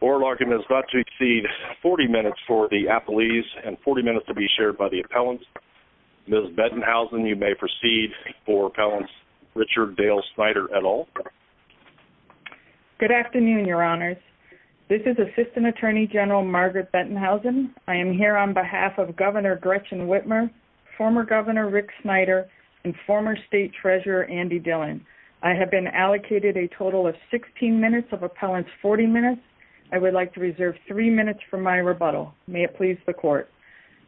ORAL ARGUMENT IS EXCEEDING 40 MINUTES FOR THE APPELLEES AND 40 MINUTES TO BE SHARED BY THE APPELLANTS. MS. BETTENHAUSEN, YOU MAY PROCEED FOR APPELLANTS RICHARD DALE SNYDER, ET AL. Good afternoon, your honors. This is Assistant Attorney General Margaret Bettenhausen. I am here on behalf of Governor Gretchen Whitmer, former Governor Rick Snyder, and former State Treasurer Andy Dillon. I have been allocated a total of 16 minutes of appellants 40 minutes. I would like to reserve three minutes for my rebuttal. May it please the court.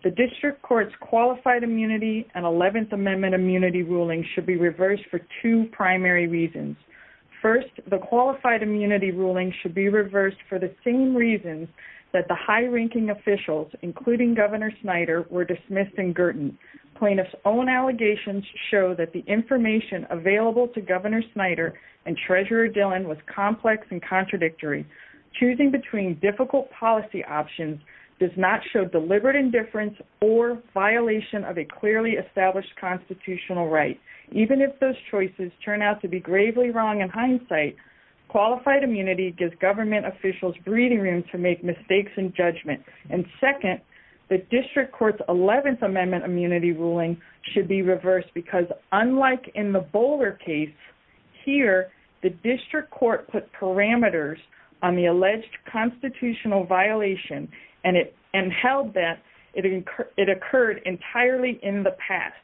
The District Court's Qualified Immunity and 11th Amendment Immunity Ruling should be reversed for two primary reasons. First, the Qualified Immunity Ruling should be reversed for the same reasons that the high-ranking officials, including Governor Snyder, were dismissed in Girton. Plaintiffs' own allegations show that the information available to Governor Snyder and Treasurer Dillon was complex and contradictory. Second, choosing between difficult policy options does not show deliberate indifference or violation of a clearly established constitutional right. Even if those choices turn out to be gravely wrong in hindsight, Qualified Immunity gives government officials breathing room to make mistakes in judgment. Second, the District Court's 11th Amendment Immunity Ruling should be reversed because, unlike in the Bowler case, here the District Court put parameters on the alleged constitutional violation and held that it occurred entirely in the past.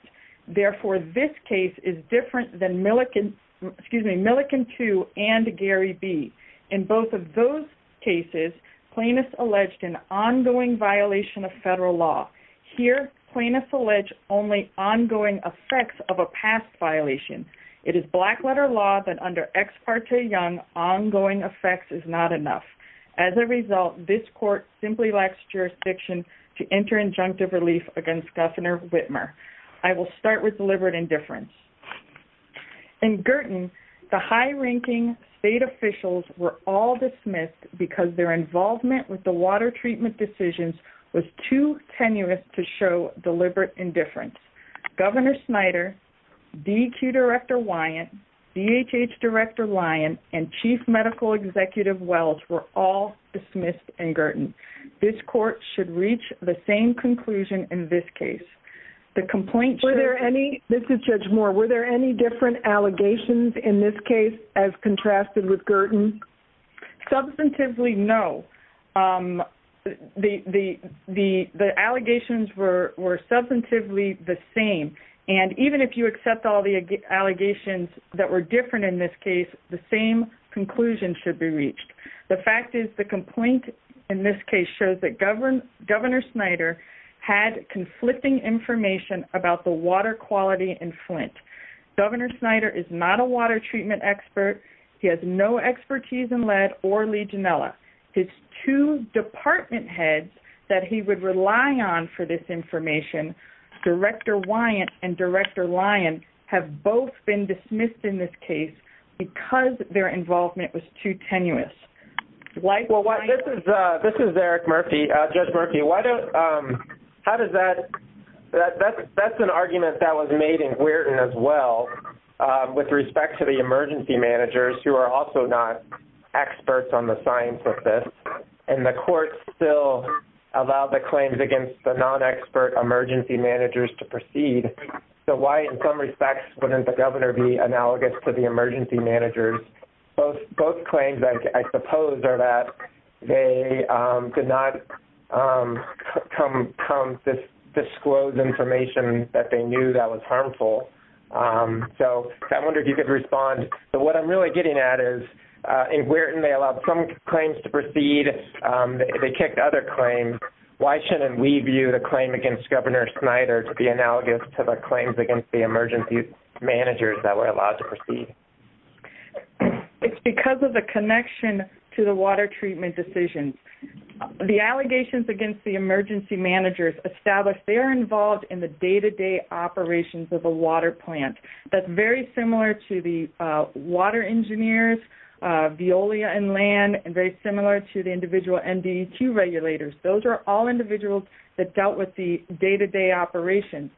Therefore, this case is different than Millikan 2 and Gary B. In both of those cases, plaintiffs alleged an ongoing violation of federal law. Here, plaintiffs allege only ongoing effects of a past violation. It is black-letter law that under Ex parte Young, ongoing effects is not enough. As a result, this court simply lacks jurisdiction to enter injunctive relief against Governor Whitmer. I will start with deliberate indifference. In Girton, the high-ranking state officials were all dismissed because their involvement with the water treatment decisions was too tenuous to show deliberate indifference. Governor Snyder, DEQ Director Lyon, DHH Director Lyon, and Chief Medical Executive Wells were all dismissed in Girton. This court should reach the same conclusion in this case. This is Judge Moore. Were there any different allegations in this case as contrasted with Girton? This is Eric Murphy. Judge Murphy, why don't... How does that... That's an argument that was made in Girton as well with respect to the emergency managers who are also not experts on the science of this. And the court still allowed the claims against the non-expert emergency managers to proceed. So why, in some respects, wouldn't the governor be analogous to the emergency managers? Both claims, I suppose, are that they did not come from disclosed information that they knew that was harmful. So I wonder if you could respond. So what I'm really getting at is, in Girton, they allowed some claims to proceed. They kicked other claims. Why shouldn't we view the claim against Governor Snyder to be analogous to the claims against the emergency managers that were allowed to proceed? It's because of the connection to the water treatment decision. The allegations against the emergency managers establish they're involved in the day-to-day operations of the water plant. That's very similar to the water engineers, Veolia and Land, and very similar to the individual NDEQ regulators. Those are all individuals that dealt with the day-to-day operations.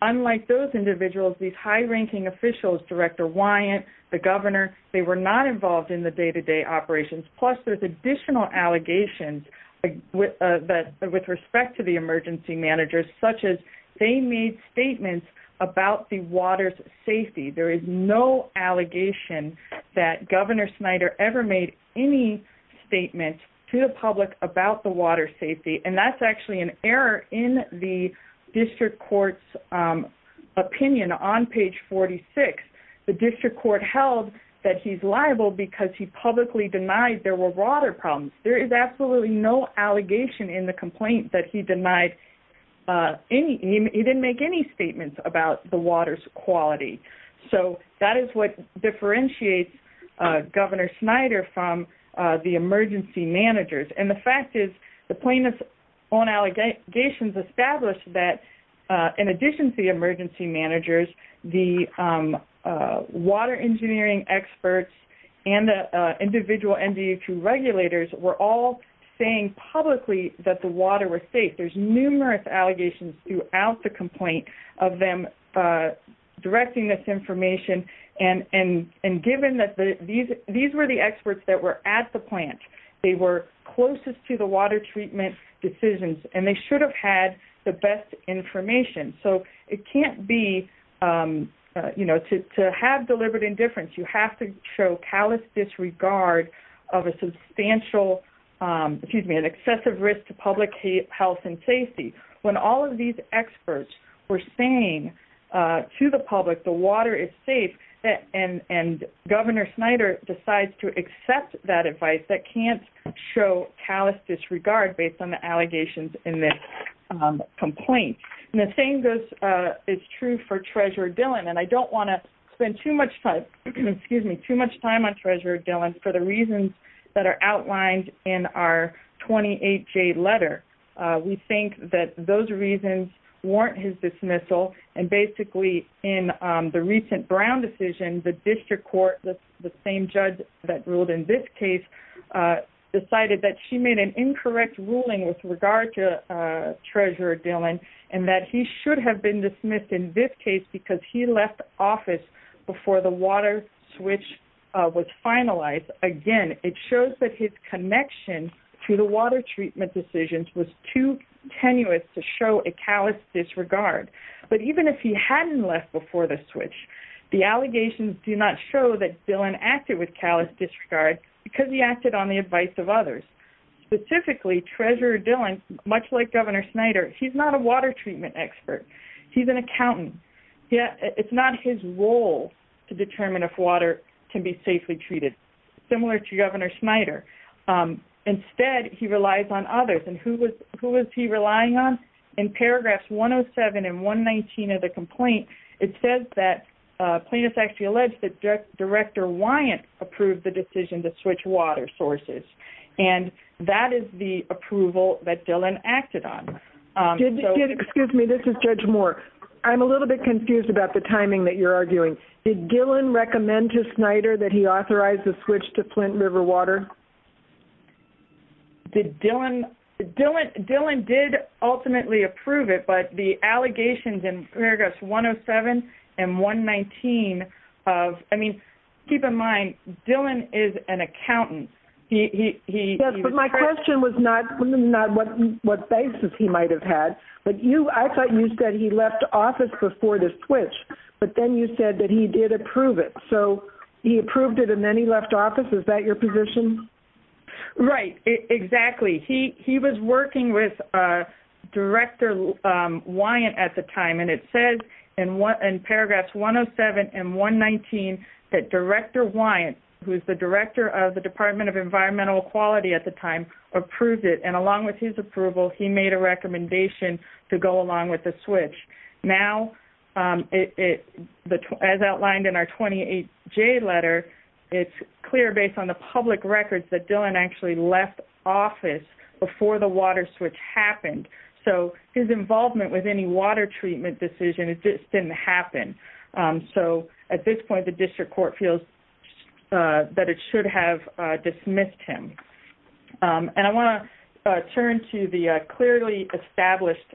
Unlike those individuals, these high-ranking officials, Director Wyant, the governor, they were not involved in the day-to-day operations. Plus, there's additional allegations with respect to the emergency managers, such as they made statements about the water's safety. There is no allegation that Governor Snyder ever made any statements to the public about the water's safety. And that's actually an error in the district court's opinion on page 46. The district court held that he's liable because he publicly denied there were water problems. There is absolutely no allegation in the complaint that he didn't make any statements about the water's quality. So, that is what differentiates Governor Snyder from the emergency managers. And the fact is, the plaintiff's own allegations established that, in addition to the emergency managers, the water engineering experts and the individual NDEQ regulators were all saying publicly that the water was safe. There's numerous allegations throughout the complaint of them directing this information. And given that these were the experts that were at the plant, they were closest to the water treatment decisions, and they should have had the best information. So, it can't be, you know, to have deliberate indifference, you have to show callous disregard of a substantial, excuse me, an excessive risk to public health and safety. When all of these experts were saying to the public the water is safe, and Governor Snyder decides to accept that advice, that can't show callous disregard based on the allegations in this complaint. And the same goes, it's true for Treasurer Dillon, and I don't want to spend too much time, excuse me, too much time on Treasurer Dillon for the reasons that are outlined in our 28-J letter. We think that those reasons warrant his dismissal, and basically, in the recent Brown decision, the district court, the same judge that ruled in this case, decided that she made an incorrect ruling with regard to Treasurer Dillon, and that he should have been dismissed in this case because he left office before the water switch was finalized. Again, it shows that his connection to the water treatment decisions was too tenuous to show a callous disregard. But even if he hadn't left before the switch, the allegations do not show that Dillon acted with callous disregard because he acted on the advice of others. Specifically, Treasurer Dillon, much like Governor Snyder, he's not a water treatment expert. He's an accountant. It's not his role to determine if water can be safely treated, similar to Governor Snyder. Instead, he relies on others, and who is he relying on? In paragraphs 107 and 119 of the complaint, it says that plaintiffs actually alleged that Director Wyant approved the decision to switch water sources, and that is the approval that Dillon acted on. Excuse me, this is Judge Moore. I'm a little bit confused about the timing that you're arguing. Did Dillon recommend to Snyder that he authorize the switch to Flint River water? Dillon did ultimately approve it, but the allegations in paragraphs 107 and 119 of – I mean, keep in mind, Dillon is an accountant. Yes, but my question was not what basis he might have had. I thought you said he left office before the switch, but then you said that he did approve it. So he approved it, and then he left office? Is that your position? Right, exactly. He was working with Director Wyant at the time, and it says in paragraphs 107 and 119 that Director Wyant, who is the director of the Department of Environmental Equality at the time, approved it, and along with his approval, he made a recommendation to go along with the switch. Now, as outlined in our 28J letter, it's clear based on the public records that Dillon actually left office before the water switch happened. So his involvement with any water treatment decision just didn't happen. So at this point, the district court feels that it should have dismissed him. And I want to turn to the clearly established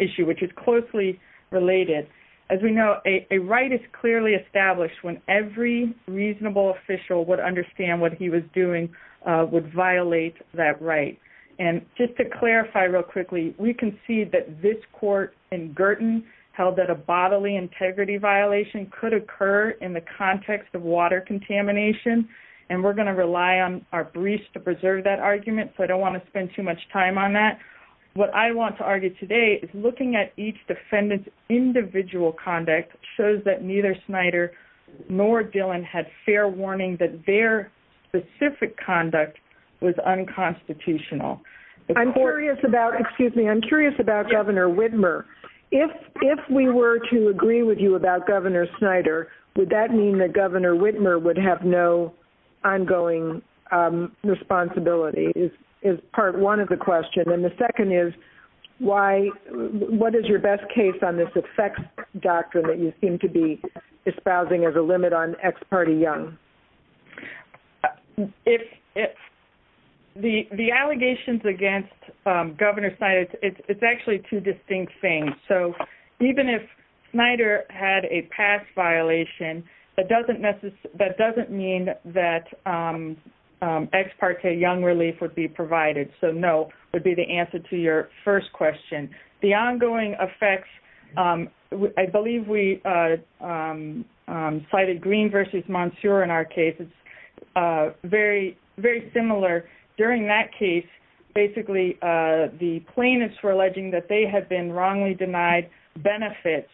issue, which is closely related. As we know, a right is clearly established when every reasonable official would understand what he was doing would violate that right. And just to clarify real quickly, we can see that this court in Girton held that a bodily integrity violation could occur in the context of water contamination, and we're going to rely on our briefs to preserve that argument, so I don't want to spend too much time on that. What I want to argue today is looking at each defendant's individual conduct shows that neither Snyder nor Dillon had fair warning that their specific conduct was unconstitutional. I'm curious about Governor Widmer. If we were to agree with you about Governor Snyder, would that mean that Governor Widmer would have no ongoing responsibility, is part one of the question. And the second is, what is your best case on this effects doctrine that you seem to be espousing as a limit on ex parte Young? The allegations against Governor Snyder, it's actually two distinct things. So even if Snyder had a past violation, that doesn't mean that ex parte Young relief would be provided, so no would be the answer to your first question. The ongoing effects, I believe we cited Green v. Monsure in our case. It's very similar. During that case, basically the plaintiffs were alleging that they had been wrongly denied benefits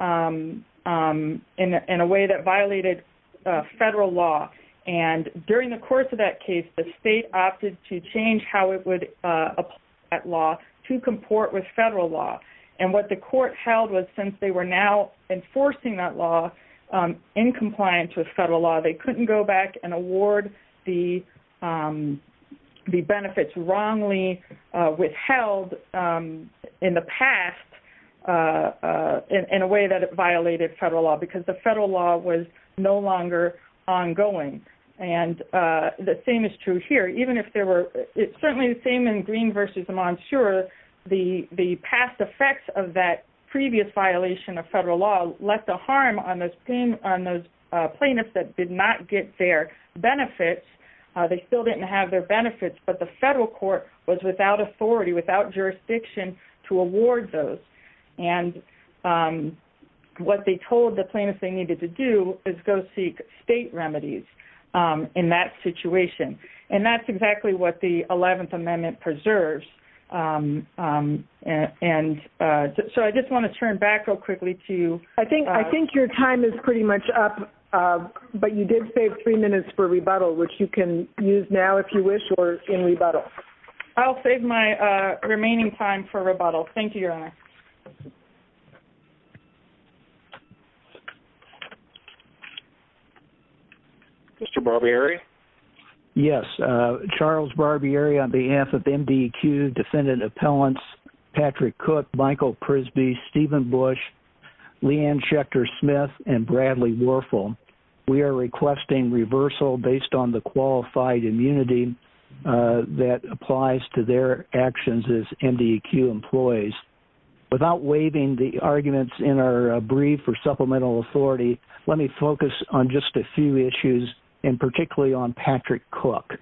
in a way that violated federal law. And during the course of that case, the state opted to change how it would apply that law to comport with federal law. And what the court held was since they were now enforcing that law in compliance with federal law, they couldn't go back and award the benefits wrongly withheld in the past in a way that it violated federal law because the federal law was no longer ongoing. And the same is true here. It's certainly the same in Green v. Monsure. The past effects of that previous violation of federal law left a harm on those plaintiffs that did not get their benefits. They still didn't have their benefits, but the federal court was without authority, without jurisdiction to award those. And what they told the plaintiffs they needed to do is go seek state remedies in that situation. And that's exactly what the 11th Amendment preserves. And so I just want to turn back real quickly to you. I think your time is pretty much up, but you did save three minutes for rebuttal, which you can use now if you wish or in rebuttal. I'll save my remaining time for rebuttal. Thank you, Your Honor. Mr. Barbieri? Yes. Charles Barbieri on behalf of MDEQ, defendant appellants Patrick Cook, Michael Prisby, Stephen Bush, Leanne Schechter-Smith, and Bradley Warfel. We are requesting reversal based on the qualified immunity that applies to their actions as MDEQ employees. Without waiving the arguments in our brief for supplemental authority, let me focus on just a few issues, and particularly on Patrick Cook.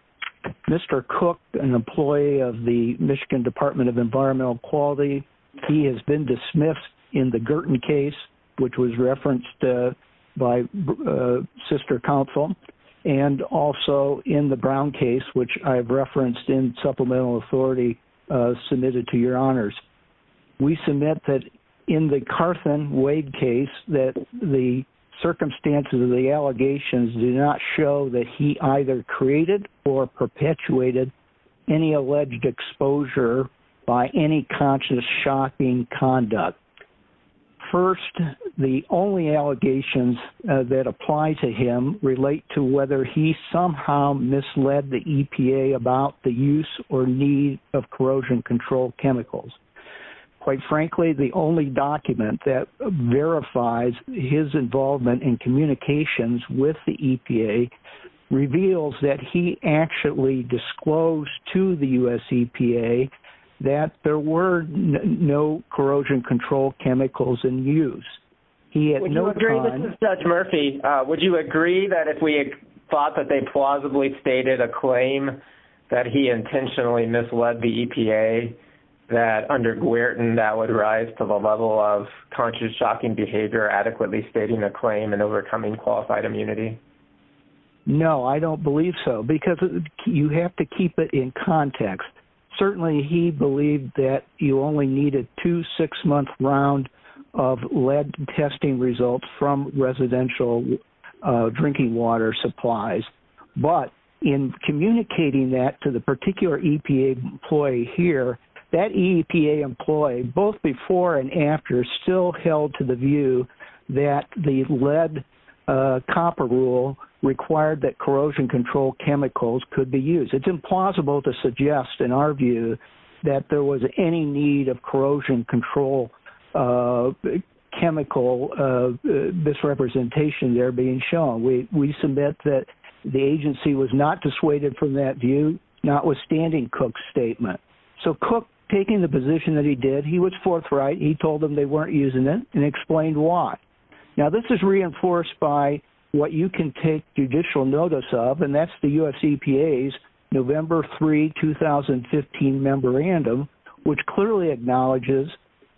Mr. Cook, an employee of the Michigan Department of Environmental Quality, he has been dismissed in the Girton case, which was referenced by Sister Counsel, and also in the Brown case, which I've referenced in supplemental authority submitted to your honors. We submit that in the Carson-Wade case that the circumstances of the allegations do not show that he either created or perpetuated any alleged exposure by any conscious, shocking conduct. First, the only allegations that apply to him relate to whether he somehow misled the EPA about the use or need of corrosion control chemicals. Quite frankly, the only document that verifies his involvement in communications with the EPA reveals that he actually disclosed to the U.S. EPA that there were no corrosion control chemicals in use. Judge Murphy, would you agree that if we had thought that they plausibly stated a claim that he intentionally misled the EPA, that under Girton that would rise to the level of conscious, shocking behavior, adequately stating the claim, and overcoming qualified immunity? No, I don't believe so, because you have to keep it in context. Certainly, he believed that you only needed two six-month rounds of lead testing results from residential drinking water supplies. But in communicating that to the particular EPA employee here, that EPA employee, both before and after, still held to the view that the lead-copper rule required that corrosion control chemicals could be used. It's implausible to suggest, in our view, that there was any need of corrosion control chemical misrepresentation there being shown. We submit that the agency was not dissuaded from that view, notwithstanding Cook's statement. So, Cook, taking the position that he did, he was forthright. He told them they weren't using it and explained why. Now, this is reinforced by what you can take judicial notice of, and that's the U.S. EPA's November 3, 2015 memorandum, which clearly acknowledges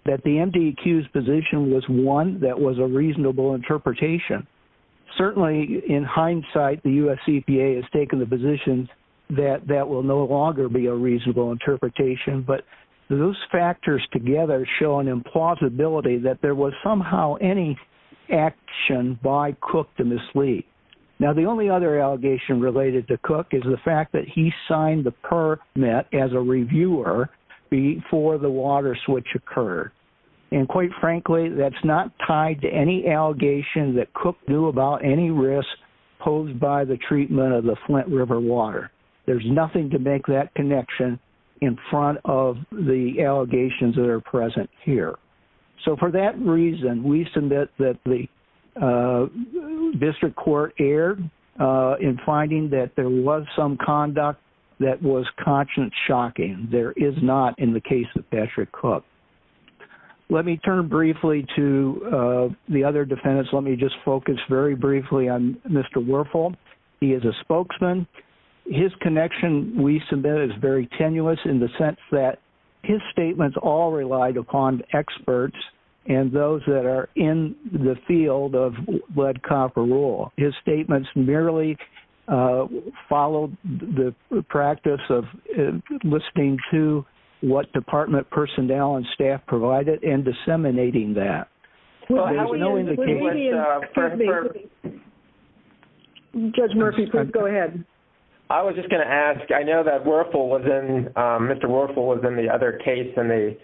that the MDQ's position was one that was a reasonable interpretation. Certainly, in hindsight, the U.S. EPA has taken the position that that will no longer be a reasonable interpretation, but those factors together show an implausibility that there was somehow any action by Cook to mislead. Now, the only other allegation related to Cook is the fact that he signed the permit as a reviewer before the water switch occurred. And, quite frankly, that's not tied to any allegation that Cook knew about any risk posed by the treatment of the Flint River water. There's nothing to make that connection in front of the allegations that are present here. So, for that reason, we submit that the district court erred in finding that there was some conduct that was conscience-shocking. There is not in the case of Patrick Cook. Let me turn briefly to the other defendants. Let me just focus very briefly on Mr. Werfel. He is a spokesman. His connection, we submit, is very tenuous in the sense that his statements all relied upon experts and those that are in the field of lead, copper, wool. His statements merely followed the practice of listening to what department personnel and staff provided and disseminating that. Judge Murphy, please go ahead. I was just going to ask, I know that Mr. Werfel was in the other case and the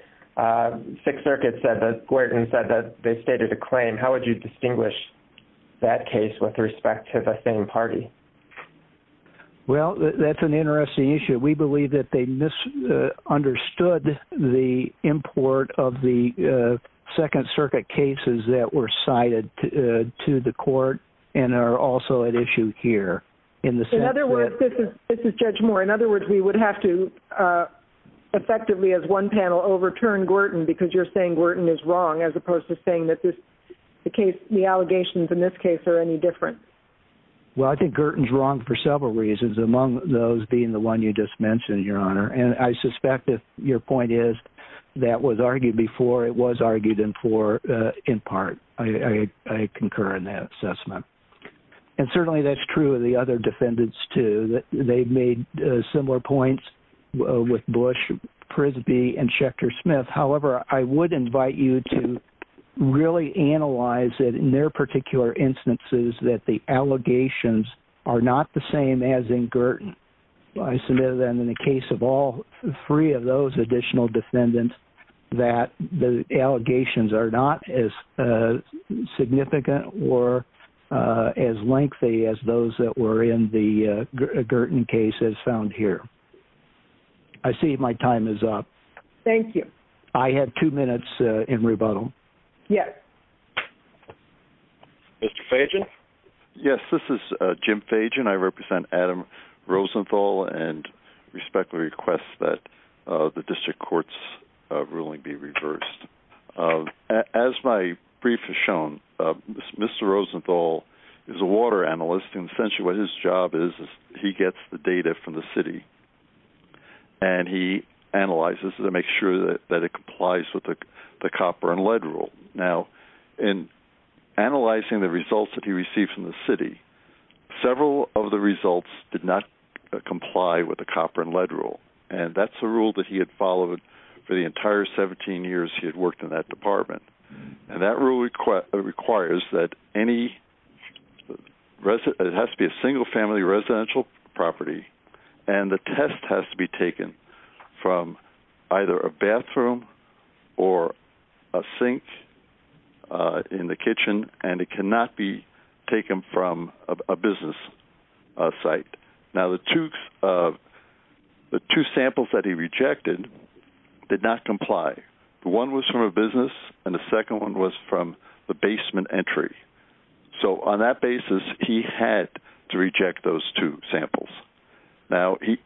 Sixth Circuit said that they stated a claim. How would you distinguish that case with respect to the same party? Well, that's an interesting issue. We believe that they misunderstood the import of the Second Circuit cases that were cited to the court and are also at issue here. In other words, this is Judge Moore. In other words, we would have to effectively, as one panel, overturn Gorton because you're saying Gorton is wrong as opposed to saying that the allegations in this case are any different. Well, I think Gorton is wrong for several reasons, among those being the one you just mentioned, Your Honor. And I suspect that your point is that was argued before it was argued in part. I concur in that assessment. And certainly that's true of the other defendants too. They've made similar points with Bush, Prisby, and Schechter-Smith. However, I would invite you to really analyze it in their particular instances that the allegations are not the same as in Gorton. I submit them in the case of all three of those additional defendants that the allegations are not as significant or as lengthy as those that were in the Gorton case as found here. I see my time is up. Thank you. I have two minutes in rebuttal. Mr. Fagin? Yes, this is Jim Fagin. I represent Adam Rosenthal and respectfully request that the district court's ruling be reversed. As my brief has shown, Mr. Rosenthal is a water analyst. And essentially what his job is is he gets the data from the city, and he analyzes it to make sure that it complies with the copper and lead rule. Now, in analyzing the results that he received from the city, several of the results did not comply with the copper and lead rule. And that's a rule that he had followed for the entire 17 years he had worked in that department. And that rule requires that it has to be a single-family residential property, and the test has to be taken from either a bathroom or a sink in the kitchen, and it cannot be taken from a business site. Now, the two samples that he rejected did not comply. The one was from a business, and the second one was from the basement entry. So on that basis, he had to reject those two samples. Now, he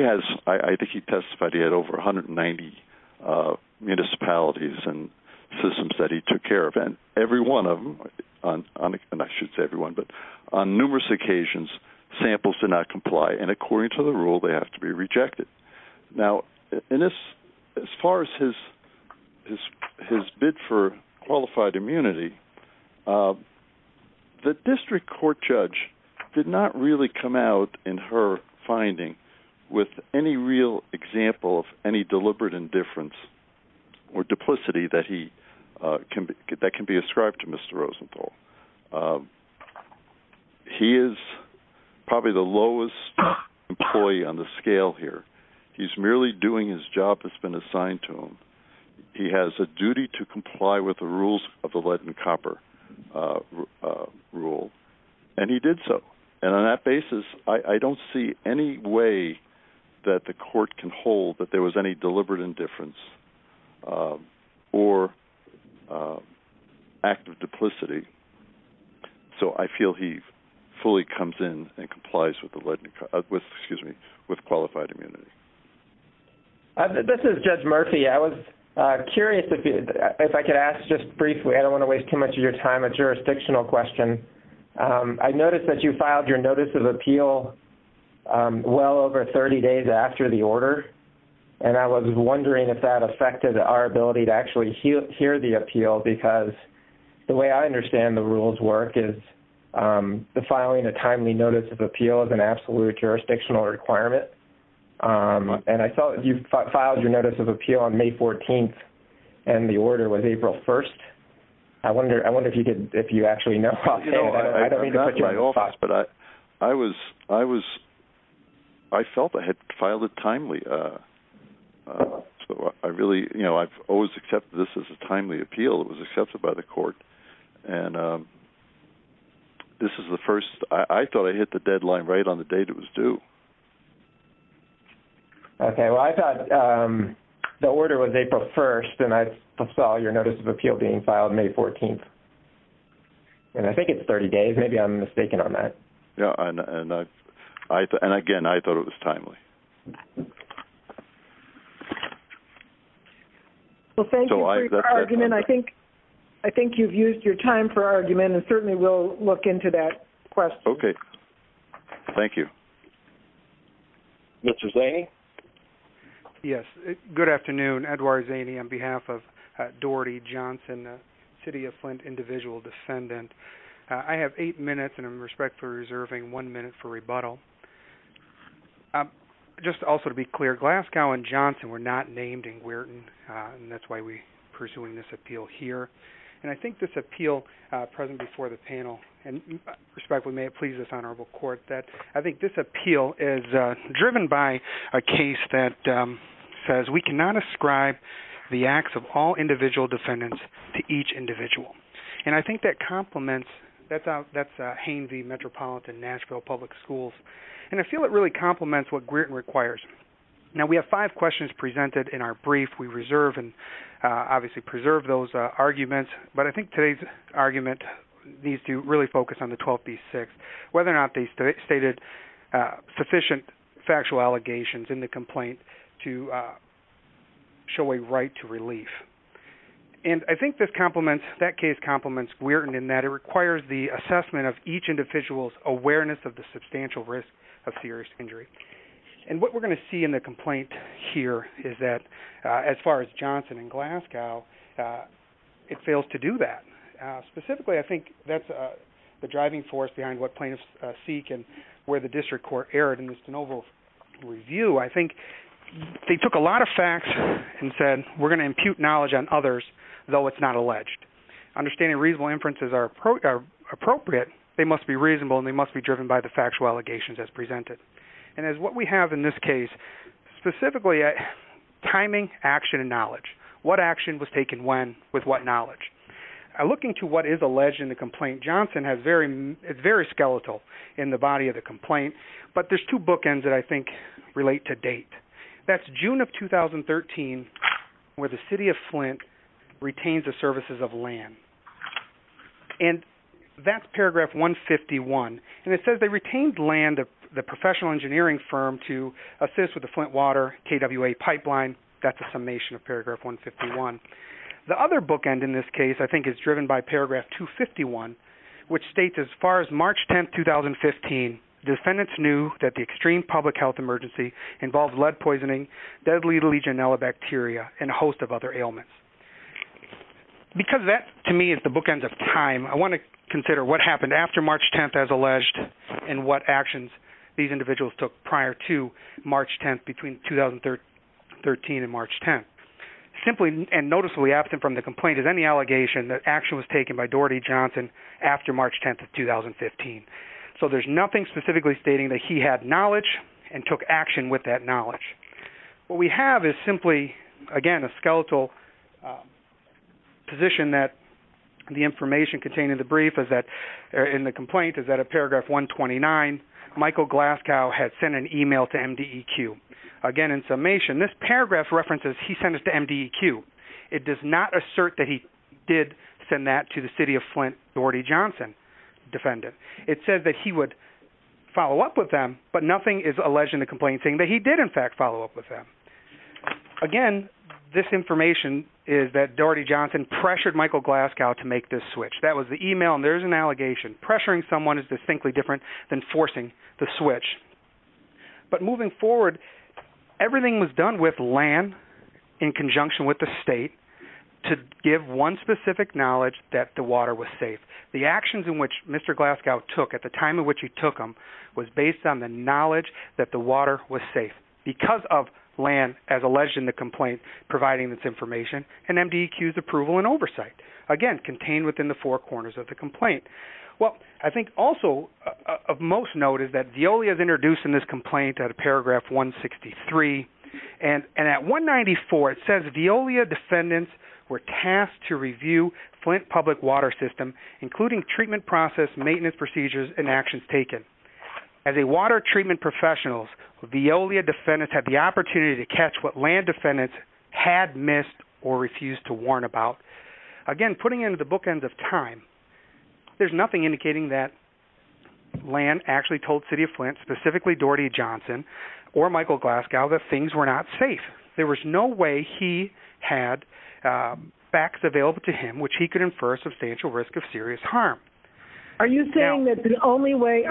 has, I think he testified, he had over 190 municipalities and systems that he took care of. And every one of them, and I shouldn't say every one, but on numerous occasions, samples did not comply. And according to the rule, they have to be rejected. Now, as far as his bid for qualified immunity, the district court judge did not really come out in her finding with any real example of any deliberate indifference or duplicity that can be ascribed to Mr. Rosenthal. He is probably the lowest employee on the scale here. He's merely doing his job that's been assigned to him. He has a duty to comply with the rules of the lead and copper rule, and he did so. And on that basis, I don't see any way that the court can hold that there was any deliberate indifference or active duplicity. So I feel he fully comes in and complies with qualified immunity. This is Judge Murphy. I was curious if I could ask just briefly, I don't want to waste too much of your time, a jurisdictional question. I noticed that you filed your notice of appeal well over 30 days after the order, and I was wondering if that affected our ability to actually hear the appeal, because the way I understand the rules work is the filing a timely notice of appeal is an absolute jurisdictional requirement. And I saw you filed your notice of appeal on May 14th, and the order was April 1st. I wonder if you actually know. I don't mean to put you on the spot, but I felt I had filed it timely. I've always accepted this as a timely appeal. It was accepted by the court. I thought I hit the deadline right on the date it was due. Okay. Well, I thought the order was April 1st, and I saw your notice of appeal being filed May 14th. And I think it's 30 days. Maybe I'm mistaken on that. Yeah, and again, I thought it was timely. Well, thank you for your argument. I think you've used your time for argument, and certainly we'll look into that question. Okay. Thank you. Mr. Zaney? Yes. Good afternoon. Edward Zaney on behalf of Doherty Johnson, the City of Flint individual descendant. I have eight minutes, and I respectfully am reserving one minute for rebuttal. Just also to be clear, Glasgow and Johnson were not named in Weirton, and that's why we're pursuing this appeal here. And I think this appeal present before the panel, and respectfully may it please this Honorable Court, that I think this appeal is driven by a case that says we cannot ascribe the acts of all individual descendants to each individual. And I think that complements – that's Hanes v. Metropolitan Nashville Public Schools. And I feel it really complements what Weirton requires. Now, we have five questions presented in our brief. We reserve and obviously preserve those arguments, but I think today's argument needs to really focus on the 12B-6, whether or not they stated sufficient factual allegations in the complaint to show a right to relief. And I think this complements – that case complements Weirton in that it requires the assessment of each individual's awareness of the substantial risk of serious injury. And what we're going to see in the complaint here is that as far as Johnson and Glasgow, it fails to do that. Specifically, I think that's the driving force behind what plaintiffs seek and where the district court erred in Mr. Novo's review. I think they took a lot of facts and said we're going to impute knowledge on others, though it's not alleged. Understanding reasonable inferences are appropriate, they must be reasonable, and they must be driven by the factual allegations as presented. And as what we have in this case, specifically, timing, action, and knowledge. What action was taken when with what knowledge? I look into what is alleged in the complaint. Johnson is very skeletal in the body of the complaint, but there's two bookends that I think relate to date. That's June of 2013, where the city of Flint retains the services of land. And that's paragraph 151. And it says they retained land of the professional engineering firm to assist with the Flint water KWA pipeline. That's a summation of paragraph 151. The other bookend in this case I think is driven by paragraph 251, which states as far as March 10, 2015, defendants knew that the extreme public health emergency involved lead poisoning, deadly Legionella bacteria, and a host of other ailments. Because that, to me, is the bookend of time, I want to consider what happened after March 10 as alleged and what actions these individuals took prior to March 10 between 2013 and March 10. Simply and noticeably absent from the complaint is any allegation that action was taken by Doherty Johnson after March 10, 2015. So there's nothing specifically stating that he had knowledge and took action with that knowledge. What we have is simply, again, a skeletal position that the information contained in the brief is that, in the complaint, is that at paragraph 129, Michael Glasgow had sent an email to MDEQ. Again, in summation, this paragraph references he sent it to MDEQ. It does not assert that he did send that to the city of Flint Doherty Johnson defendant. It says that he would follow up with them, but nothing is alleged in the complaint saying that he did, in fact, follow up with them. Again, this information is that Doherty Johnson pressured Michael Glasgow to make this switch. That was the email, and there's an allegation. Pressuring someone is distinctly different than forcing the switch. But moving forward, everything was done with land in conjunction with the state to give one specific knowledge that the water was safe. The actions in which Mr. Glasgow took at the time in which he took them was based on the knowledge that the water was safe, because of land, as alleged in the complaint, providing this information, and MDEQ's approval and oversight. Again, contained within the four corners of the complaint. Well, I think also of most note is that Veolia is introduced in this complaint at paragraph 163, and at 194 it says Veolia defendants were tasked to review Flint public water system, including treatment process, maintenance procedures, and actions taken. As a water treatment professional, Veolia defendants had the opportunity to catch what land defendants had missed or refused to warn about. Again, putting it into the bookends of time, there's nothing indicating that land actually told city of Flint, specifically Doherty Johnson or Michael Glasgow, that things were not safe. There was no way he had facts available to him which he could infer substantial risk of serious harm. Are you saying that the only way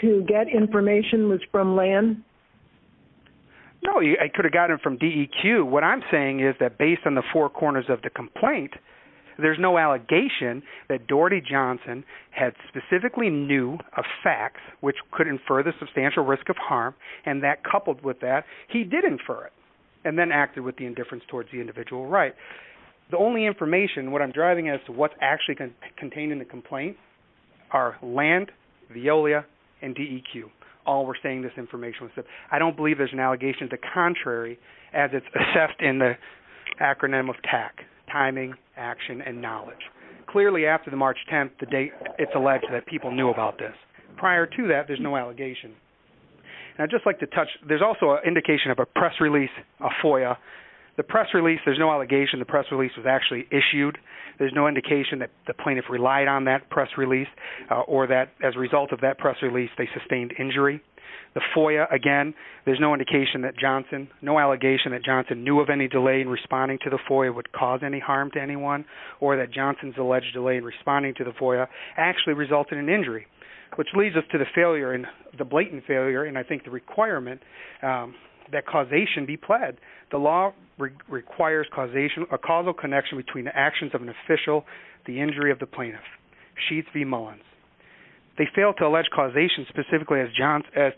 to get information was from land? No, I could have gotten it from DEQ. What I'm saying is that based on the four corners of the complaint, there's no allegation that Doherty Johnson had specifically knew of facts which could infer the substantial risk of harm, and that coupled with that, he did infer it, and then acted with the indifference towards the individual right. The only information, what I'm driving at is what's actually contained in the complaint are land, Veolia, and DEQ. All were saying this information. I don't believe there's an allegation to contrary as it's assessed in the acronym of TAC, Timing, Action, and Knowledge. Clearly, after the March 10th, the date it's alleged that people knew about this. Prior to that, there's no allegation. Now, I'd just like to touch, there's also an indication of a press release, a FOIA. The press release, there's no allegation the press release was actually issued. There's no indication that the plaintiff relied on that press release or that as a result of that press release, they sustained injury. The FOIA, again, there's no indication that Johnson, no allegation that Johnson knew of any delay in responding to the FOIA would cause any harm to anyone or that Johnson's alleged delay in responding to the FOIA actually resulted in injury, which leads us to the failure, the blatant failure, and I think the requirement that causation be pled. The law requires causation, a causal connection between the actions of an official, the injury of the plaintiff, Sheets v. Mullins. They fail to allege causation specifically as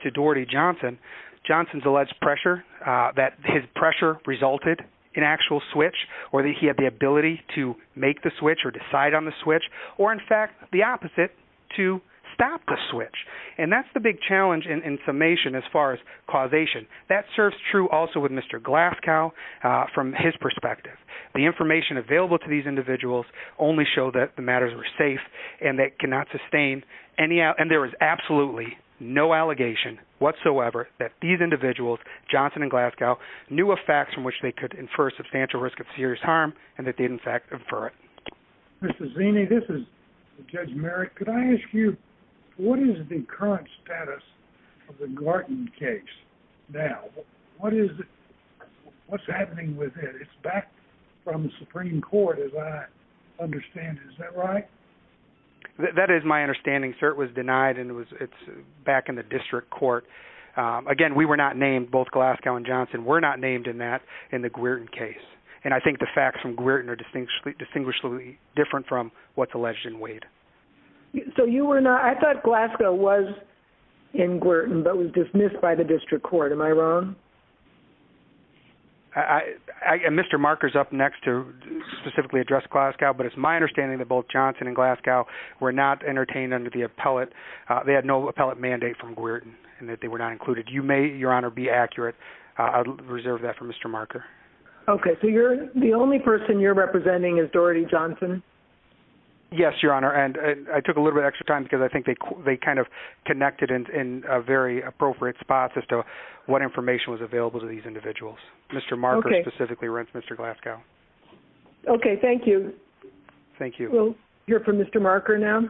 to Doherty Johnson. Johnson's alleged pressure that his pressure resulted in actual switch or that he had the ability to make the switch or decide on the switch or, in fact, the opposite, to stop the switch. And that's the big challenge in summation as far as causation. That serves true also with Mr. Glasgow from his perspective. The information available to these individuals only show that the matters were safe and that cannot sustain any and there is absolutely no allegation whatsoever that these individuals, Johnson and Glasgow, knew of facts from which they could infer substantial risk of serious harm and that they'd, in fact, infer it. Mr. Zaney, this is Judge Merrick. Could I ask you what is the current status of the Gorton case now? What is it? It's back from the Supreme Court as I understand it. Is that right? That is my understanding, sir. It was denied and it's back in the district court. Again, we were not named, both Glasgow and Johnson were not named in that, in the Gorton case. And I think the facts from Gorton are distinguishably different from what's alleged in Wade. So you were not – I thought Glasgow was in Gorton but was dismissed by the district court. Am I wrong? Mr. Marker's up next to specifically address Glasgow, but it's my understanding that both Johnson and Glasgow were not entertained under the appellate. They had no appellate mandate from Gorton and that they were not included. You may, Your Honor, be accurate. I'll reserve that for Mr. Marker. Okay. So the only person you're representing is Doherty Johnson? Yes, Your Honor, and I took a little bit of extra time because I think they kind of connected in a very appropriate spot as to what information was available to these individuals. Mr. Marker specifically runs Mr. Glasgow. Okay. Thank you. Thank you. We'll hear from Mr. Marker now.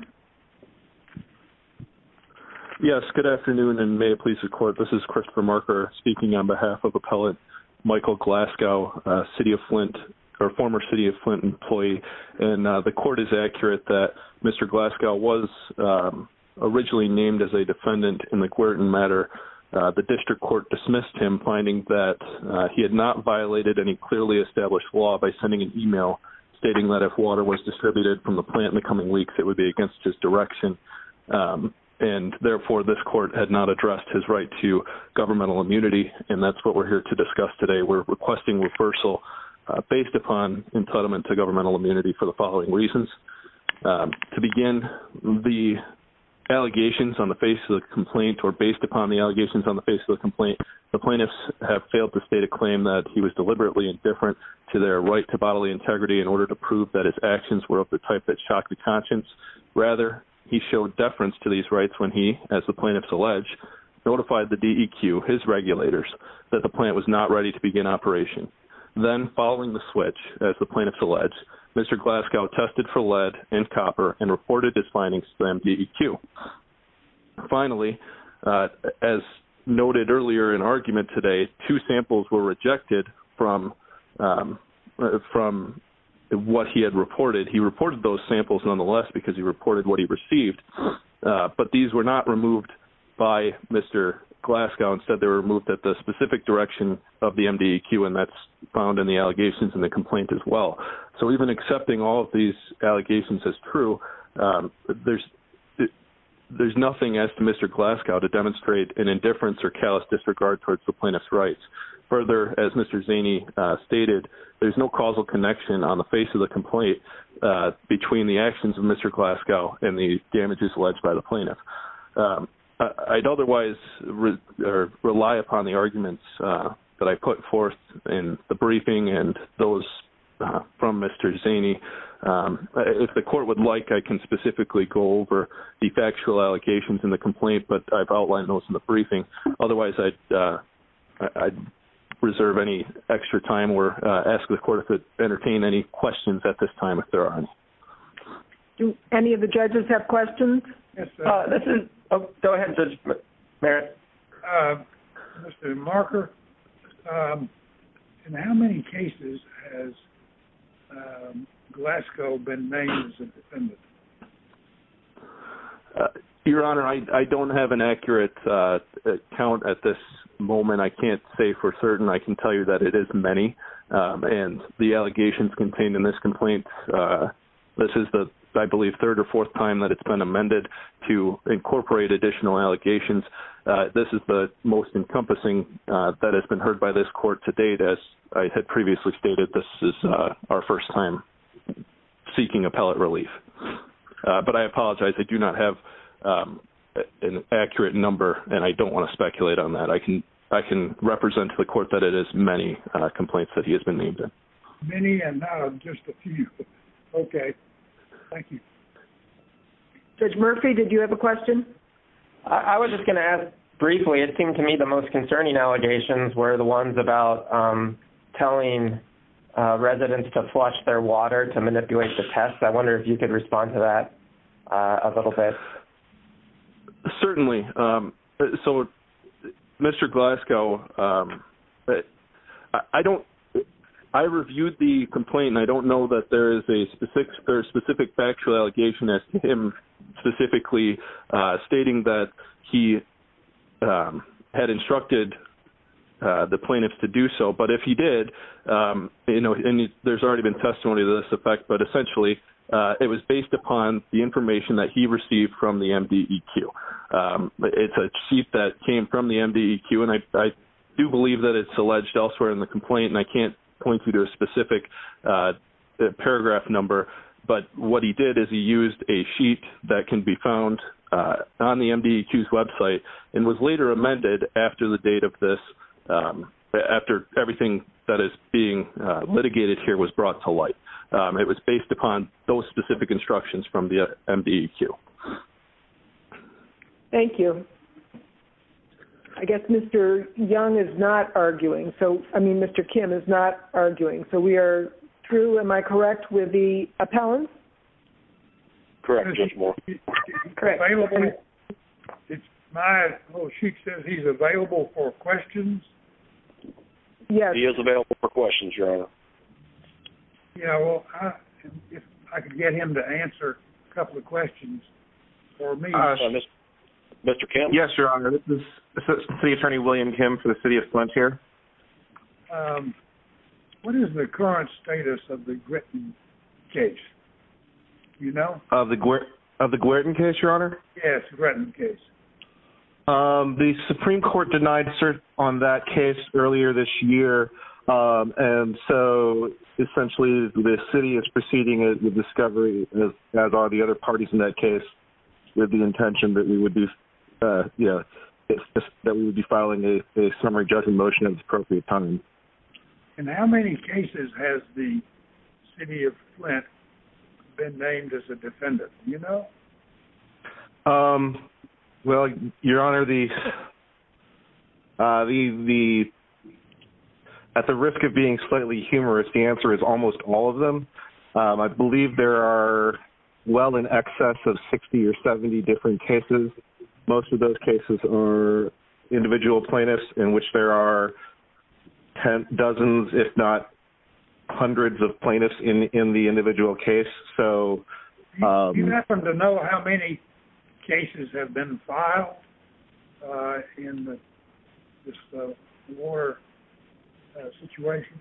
Yes, good afternoon and may it please the Court. This is Christopher Marker speaking on behalf of appellate Michael Glasgow, city of Flint – or former city of Flint employee. And the Court is accurate that Mr. Glasgow was originally named as a defendant in the Gorton matter. The district court dismissed him finding that he had not violated any clearly established law by sending an email stating that if water was distributed from the plant in the coming weeks, it would be against his direction. And, therefore, this court had not addressed his right to governmental immunity, and that's what we're here to discuss today. We're requesting reversal based upon entitlement to governmental immunity for the following reasons. To begin, the allegations on the face of the complaint or based upon the allegations on the face of the complaint, the plaintiffs have failed to state a claim that he was deliberately indifferent to their right to bodily integrity in order to prove that his actions were of the type that shocked the conscience. Rather, he showed deference to these rights when he, as the plaintiffs allege, notified the DEQ, his regulators, that the plant was not ready to begin operation. Then, following the switch, as the plaintiffs allege, Mr. Glasgow tested for lead and copper and reported his findings to the DEQ. Finally, as noted earlier in argument today, two samples were rejected from what he had reported. He reported those samples nonetheless because he reported what he received, but these were not removed by Mr. Glasgow. Instead, they were removed at the specific direction of the MDEQ, and that's found in the allegations in the complaint as well. So even accepting all of these allegations as true, there's nothing as to Mr. Glasgow to demonstrate an indifference or callous disregard towards the plaintiff's rights. Further, as Mr. Zaney stated, there's no causal connection on the face of the complaint between the actions of Mr. Glasgow and the damages alleged by the plaintiff. I'd otherwise rely upon the arguments that I put forth in the briefing and those from Mr. Zaney. If the court would like, I can specifically go over the factual allegations in the complaint, but I've outlined those in the briefing. Otherwise, I'd reserve any extra time or ask the court to entertain any questions at this time if there are any. Do any of the judges have questions? Go ahead, Judge Barrett. Mr. Marker, in how many cases has Glasgow been named as a defendant? Your Honor, I don't have an accurate count at this moment. I can't say for certain. I can tell you that it is many, and the allegations contained in this complaint, this is the, I believe, third or fourth time that it's been amended to incorporate additional allegations. This is the most encompassing that has been heard by this court to date. As I had previously stated, this is our first time seeking appellate relief. But I apologize. I do not have an accurate number, and I don't want to speculate on that. I can represent to the court that it is many complaints that he has been named in. Many and now just a few. Okay. Thank you. Judge Murphy, did you have a question? I was just going to ask briefly. It seemed to me the most concerning allegations were the ones about telling residents to flush their water, to manipulate the test. I wonder if you could respond to that a little bit. Certainly. So, Mr. Glasgow, I reviewed the complaint, and I don't know that there is a specific factual allegation that him specifically stating that he had instructed the plaintiffs to do so. But if he did, and there's already been testimony to this effect, but essentially it was based upon the information that he received from the MDEQ. It's a sheet that came from the MDEQ, and I do believe that it's alleged elsewhere in the complaint, and I can't point you to a specific paragraph number. But what he did is he used a sheet that can be found on the MDEQ's website and was later amended after the date of this, after everything that is being litigated here was brought to light. It was based upon those specific instructions from the MDEQ. Thank you. I guess Mr. Young is not arguing. So, I mean, Mr. Kim is not arguing. So we are true, am I correct, with the appellant? Correct, Judge Moore. Correct. My sheet says he's available for questions. Yes. He is available for questions, Your Honor. Yeah, well, if I could get him to answer a couple of questions for me. Mr. Kim? Yes, Your Honor. This is City Attorney William Kim for the City of Flint here. What is the current status of the Gritton case? Do you know? Of the Gwerton case, Your Honor? Yes, Gritton case. The Supreme Court denied cert on that case earlier this year, and so essentially the city is proceeding with discovery, as are the other parties in that case, with the intention that we would be filing a summary judgment motion in appropriate time. And how many cases has the City of Flint been named as a defendant? Do you know? Well, Your Honor, at the risk of being slightly humorous, the answer is almost all of them. I believe there are well in excess of 60 or 70 different cases. Most of those cases are individual plaintiffs in which there are tens, dozens, if not hundreds of plaintiffs in the individual case. Do you happen to know how many cases have been filed in this Moore situation?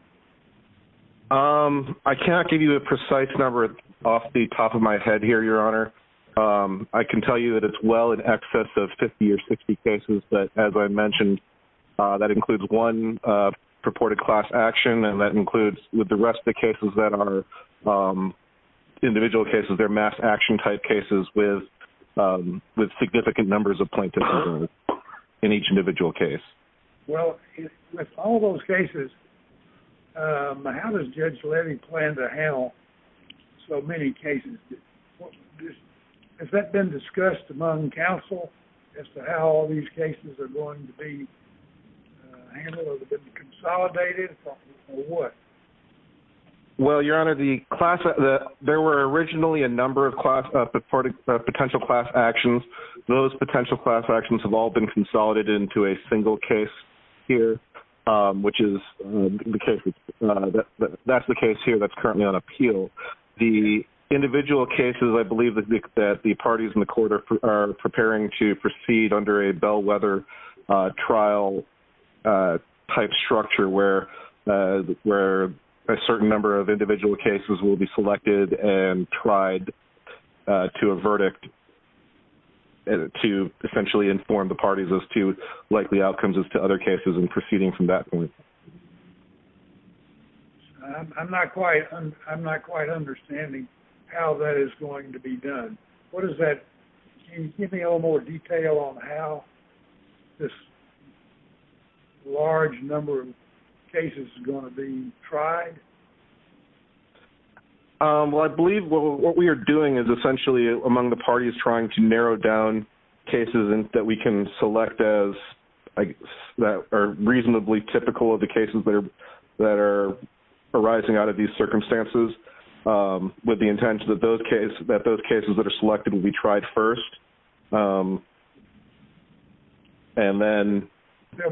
I cannot give you a precise number off the top of my head here, Your Honor. I can tell you that it's well in excess of 50 or 60 cases that, as I mentioned, that includes one purported class action and that includes, with the rest of the cases that are individual cases, they're mass action type cases with significant numbers of plaintiffs in each individual case. Well, with all those cases, how does Judge Levy plan to handle so many cases? Has that been discussed among counsel as to how all these cases are going to be handled? Have they been consolidated or what? Well, Your Honor, there were originally a number of potential class actions. Those potential class actions have all been consolidated into a single case here, which is the case here that's currently on appeal. The individual cases I believe that the parties in the court are preparing to proceed under a bellwether trial type structure where a certain number of individual cases will be selected and tried to a verdict to essentially inform the parties as to likely outcomes as to other cases and proceeding from that point. I'm not quite understanding how that is going to be done. Can you give me a little more detail on how this large number of cases is going to be tried? Well, I believe what we are doing is essentially among the parties trying to narrow down cases that we can select that are reasonably typical of the cases that are arising out of these circumstances with the intention that those cases that are selected will be tried first. They'll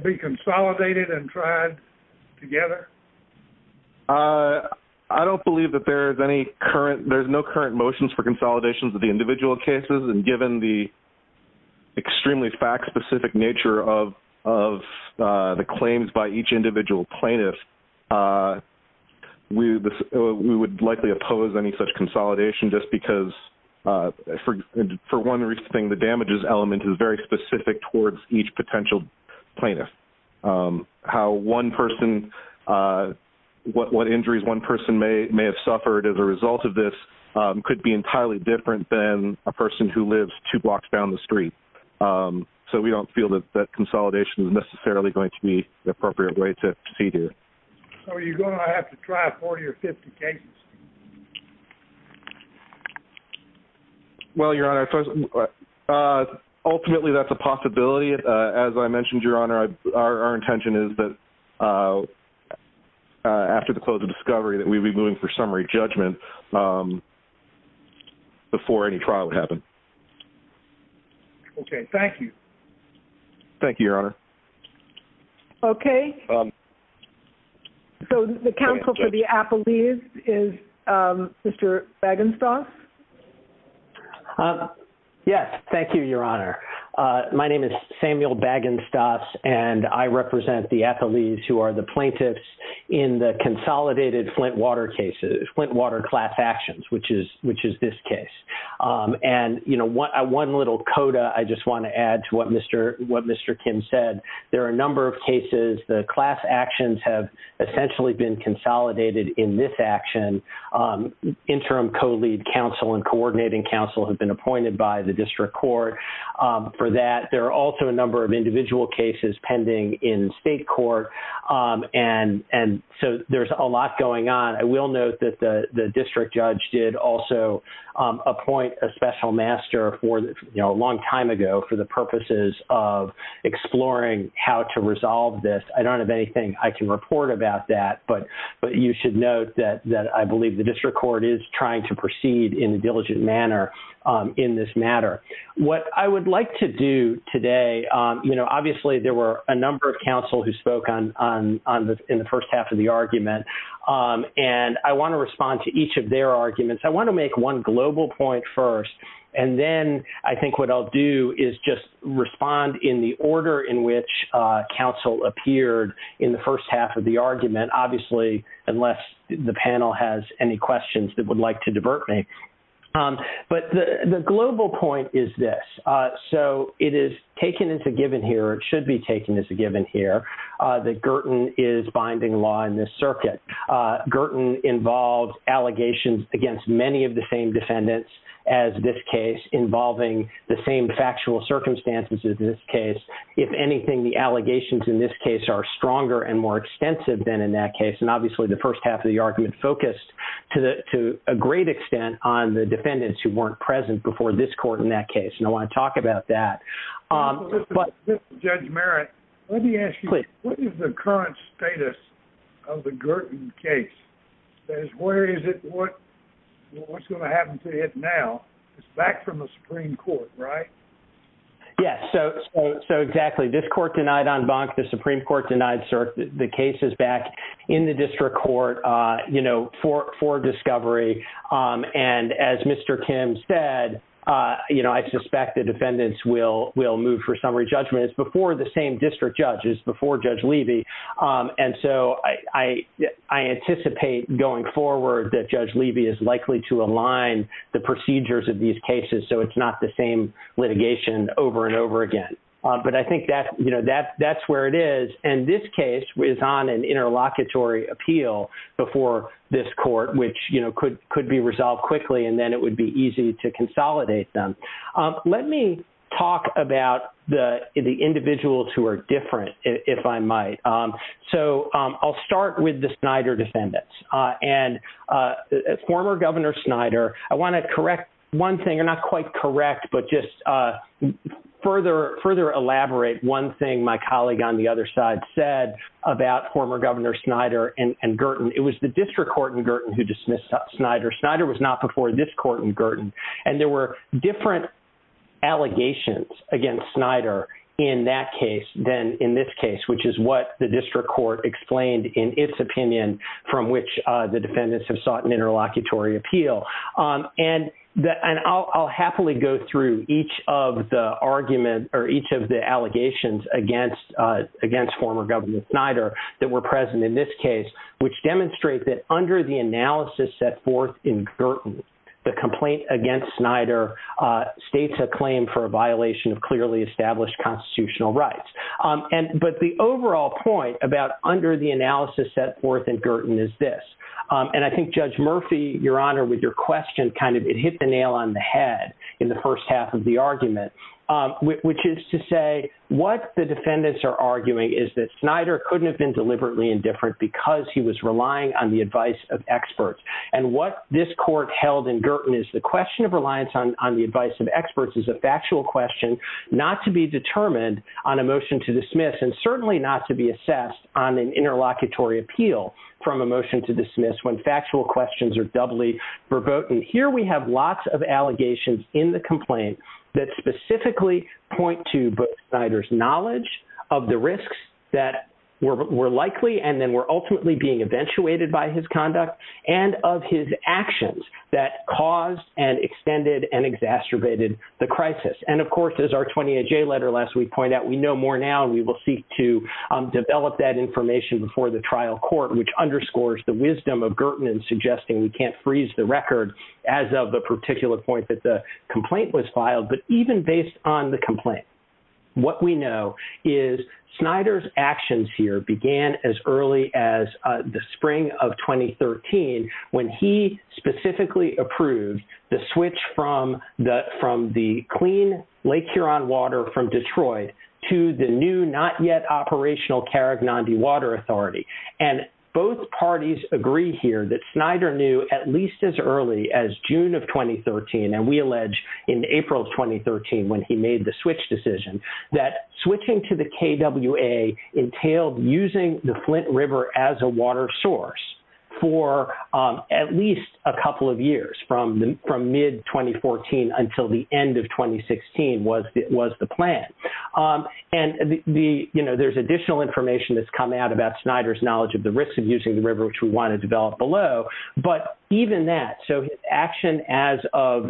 be consolidated and tried together? I don't believe that there is any current – there's no current motions for consolidations of the individual cases. Given the extremely fact-specific nature of the claims by each individual plaintiff, we would likely oppose any such consolidation just because, for one reason, the damages element is very specific towards each potential plaintiff. How one person – what injuries one person may have suffered as a result of this could be entirely different than a person who lives two blocks down the street. So we don't feel that consolidation is necessarily going to be the appropriate way to proceed here. So are you going to have to try 40 or 50 cases? Well, Your Honor, ultimately that's a possibility. As I mentioned, Your Honor, our intention is that after the close of discovery that we'd be moving for summary judgment before any trial would happen. Okay. Thank you. Thank you, Your Honor. Okay. So the counsel for the appellees is Mr. Bagenstos. Yes. Thank you, Your Honor. My name is Samuel Bagenstos, and I represent the appellees who are the plaintiffs in the consolidated Flint water cases – Flint water class actions, which is this case. And, you know, one little coda I just want to add to what Mr. Kim said. There are a number of cases. The class actions have essentially been consolidated in this action. Interim co-lead counsel and coordinating counsel have been appointed by the district court. For that, there are also a number of individual cases pending in state court. And so there's a lot going on. I will note that the district judge did also appoint a special master for, you know, a long time ago for the purposes of exploring how to resolve this. I don't have anything I can report about that, but you should note that I believe the district court is trying to proceed in a diligent manner in this matter. What I would like to do today, you know, obviously there were a number of counsel who spoke in the first half of the argument, and I want to respond to each of their arguments. I want to make one global point first, and then I think what I'll do is just respond in the order in which counsel appeared in the first half of the argument, obviously unless the panel has any questions that would like to divert me. But the global point is this. So it is taken as a given here, it should be taken as a given here, that Girton is binding law in this circuit. Girton involves allegations against many of the same defendants as this case, involving the same factual circumstances as this case. If anything, the allegations in this case are stronger and more extensive than in that case. And obviously the first half of the argument focused to a great extent on the defendants who weren't present before this court in that case, and I want to talk about that. Judge Merritt, let me ask you, what is the current status of the Girton case? Where is it, what's going to happen to it now? It's back from the Supreme Court, right? Yes, so exactly. This court denied en banc, the Supreme Court denied cert, the case is back in the district court for discovery. And as Mr. Kim said, I suspect the defendants will move for summary judgment. It's before the same district judge, it's before Judge Levy. And so I anticipate going forward that Judge Levy is likely to align the procedures of these cases so it's not the same litigation over and over again. But I think that's where it is. And this case is on an interlocutory appeal before this court, which could be resolved quickly and then it would be easy to consolidate them. Let me talk about the individuals who are different, if I might. So I'll start with the Snyder defendants. And former Governor Snyder, I want to correct one thing, not quite correct, but just further elaborate one thing my colleague on the other side said about former Governor Snyder and Gertin. It was the district court in Gertin who dismissed Snyder. Snyder was not before this court in Gertin. And there were different allegations against Snyder in that case than in this case, which is what the district court explained in its opinion from which the defendants have sought an interlocutory appeal. And I'll happily go through each of the allegations against former Governor Snyder that were present in this case, which demonstrate that under the analysis set forth in Gertin, the complaint against Snyder states a claim for a violation of clearly established constitutional rights. But the overall point about under the analysis set forth in Gertin is this. And I think Judge Murphy, Your Honor, with your question, kind of it hit the nail on the head in the first half of the argument, which is to say what the defendants are arguing is that Snyder couldn't have been deliberately indifferent because he was relying on the advice of experts. And what this court held in Gertin is the question of reliance on the advice of experts is a factual question not to be determined on a motion to dismiss and certainly not to be assessed on an interlocutory appeal from a motion to dismiss when factual questions are doubly verboten. Here we have lots of allegations in the complaint that specifically point to Snyder's knowledge of the risks that were likely and then were ultimately being eventuated by his conduct and of his actions that caused and extended and exacerbated the crisis. And, of course, as our 28-J letter last week pointed out, we know more now and we will seek to develop that information before the trial court, which underscores the wisdom of Gertin in suggesting we can't freeze the record as of the particular point that the complaint was filed, but even based on the complaint. What we know is Snyder's actions here began as early as the spring of 2013 when he specifically approved the switch from the clean Lake Huron water from Detroit to the new not yet operational Karaganda Water Authority. And both parties agree here that Snyder knew at least as early as June of 2013, and we allege in April of 2013 when he made the switch decision, that switching to the KWA entailed using the Flint River as a water source for at least a couple of years from mid-2014 until the end of 2016 was the plan. And, you know, there's additional information that's come out about Snyder's knowledge of the risks of using the river, which we want to develop below, but even that, so action as of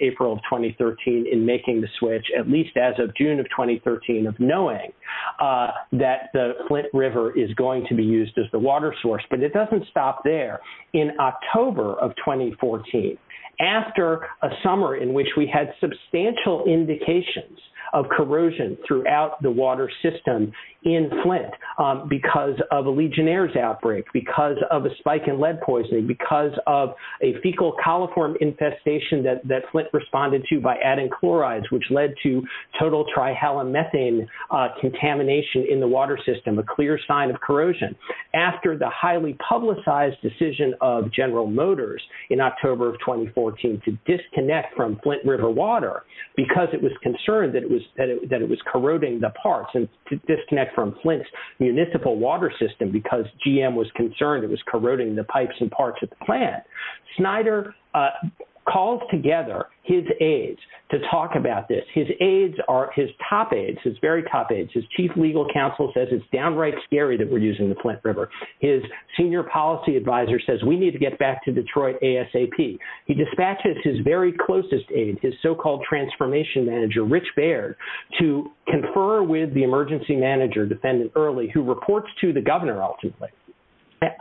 April of 2013 in making the switch, at least as of June of 2013, of knowing that the Flint River is going to be used as the water source, but it doesn't stop there. In October of 2014, after a summer in which we had substantial indications of corrosion throughout the water system in Flint because of a Legionnaire's outbreak, because of a spike in lead poisoning, because of a fecal coliform infestation that Flint responded to by adding chlorides, which led to total trihalomethane contamination in the water system, a clear sign of corrosion. After the highly publicized decision of General Motors in October of 2014 to disconnect from Flint River water because it was concerned that it was corroding the parts and to disconnect from Flint's municipal water system because GM was concerned that it was corroding the pipes and parts of the plant, Snyder calls together his aides to talk about this. His aides are his top aides, his very top aides. His chief legal counsel says it's downright scary that we're using the Flint River. His senior policy advisor says we need to get back to Detroit ASAP. He dispatches his very closest aide, his so-called transformation manager, Rich Baird, to confer with the emergency manager, the then early, who reports to the governor ultimately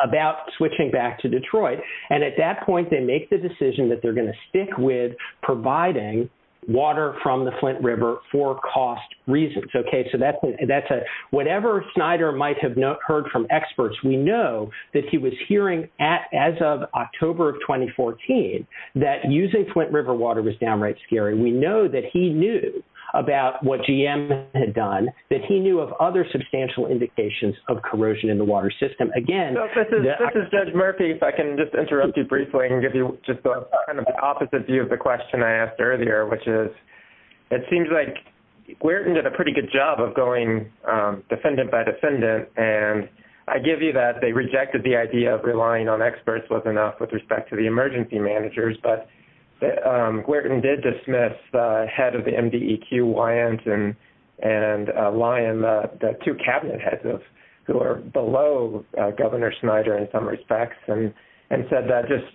about switching back to Detroit. And at that point they make the decision that they're going to stick with providing water from the Flint River for cost reasons. Okay, so that's a, whatever Snyder might have heard from experts, we know that he was hearing as of October of 2014 that using Flint River water was downright scary. We know that he knew about what GM had done, that he knew of other substantial indications of corrosion in the water system. Again, this is Judge Murphy, if I can just interrupt you briefly and give you just kind of the opposite view of the question I asked earlier, which is it seems like Guertin did a pretty good job of going defendant by defendant, and I give you that they rejected the idea of relying on experts was enough with respect to the emergency managers, but Guertin did dismiss the head of the MDEQ, Wyant, and Lyon, the two cabinet heads who are below Governor Snyder in some respects, and said that just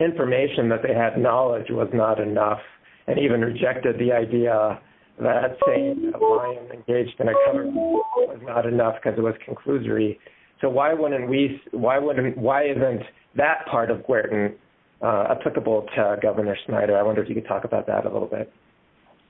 information that they had knowledge was not enough, and even rejected the idea that saying Lyon engaged in a cover-up was not enough because it was conclusory, so why wasn't that part of Guertin applicable to Governor Snyder? I wonder if you could talk about that a little bit.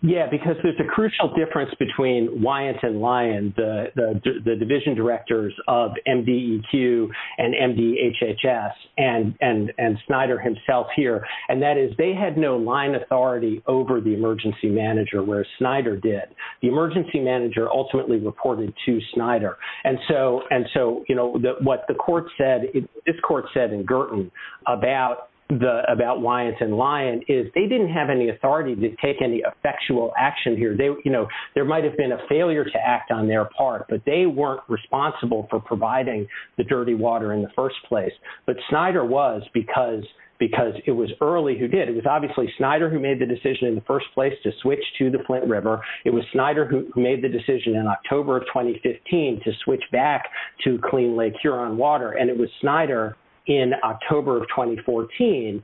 Yeah, because there's a crucial difference between Wyant and Lyon, the division directors of MDEQ and MDHHS and Snyder himself here, and that is they had no line authority over the emergency manager where Snyder did. The emergency manager ultimately reported to Snyder, and so what this court said in Guertin about Wyant and Lyon is they didn't have any authority to take any effectual action here. There might have been a failure to act on their part, but they weren't responsible for providing the dirty water in the first place, but Snyder was because it was early who did. It was obviously Snyder who made the decision in the first place to switch to the Flint River. It was Snyder who made the decision in October of 2015 to switch back to clean Lake Huron water, and it was Snyder in October of 2014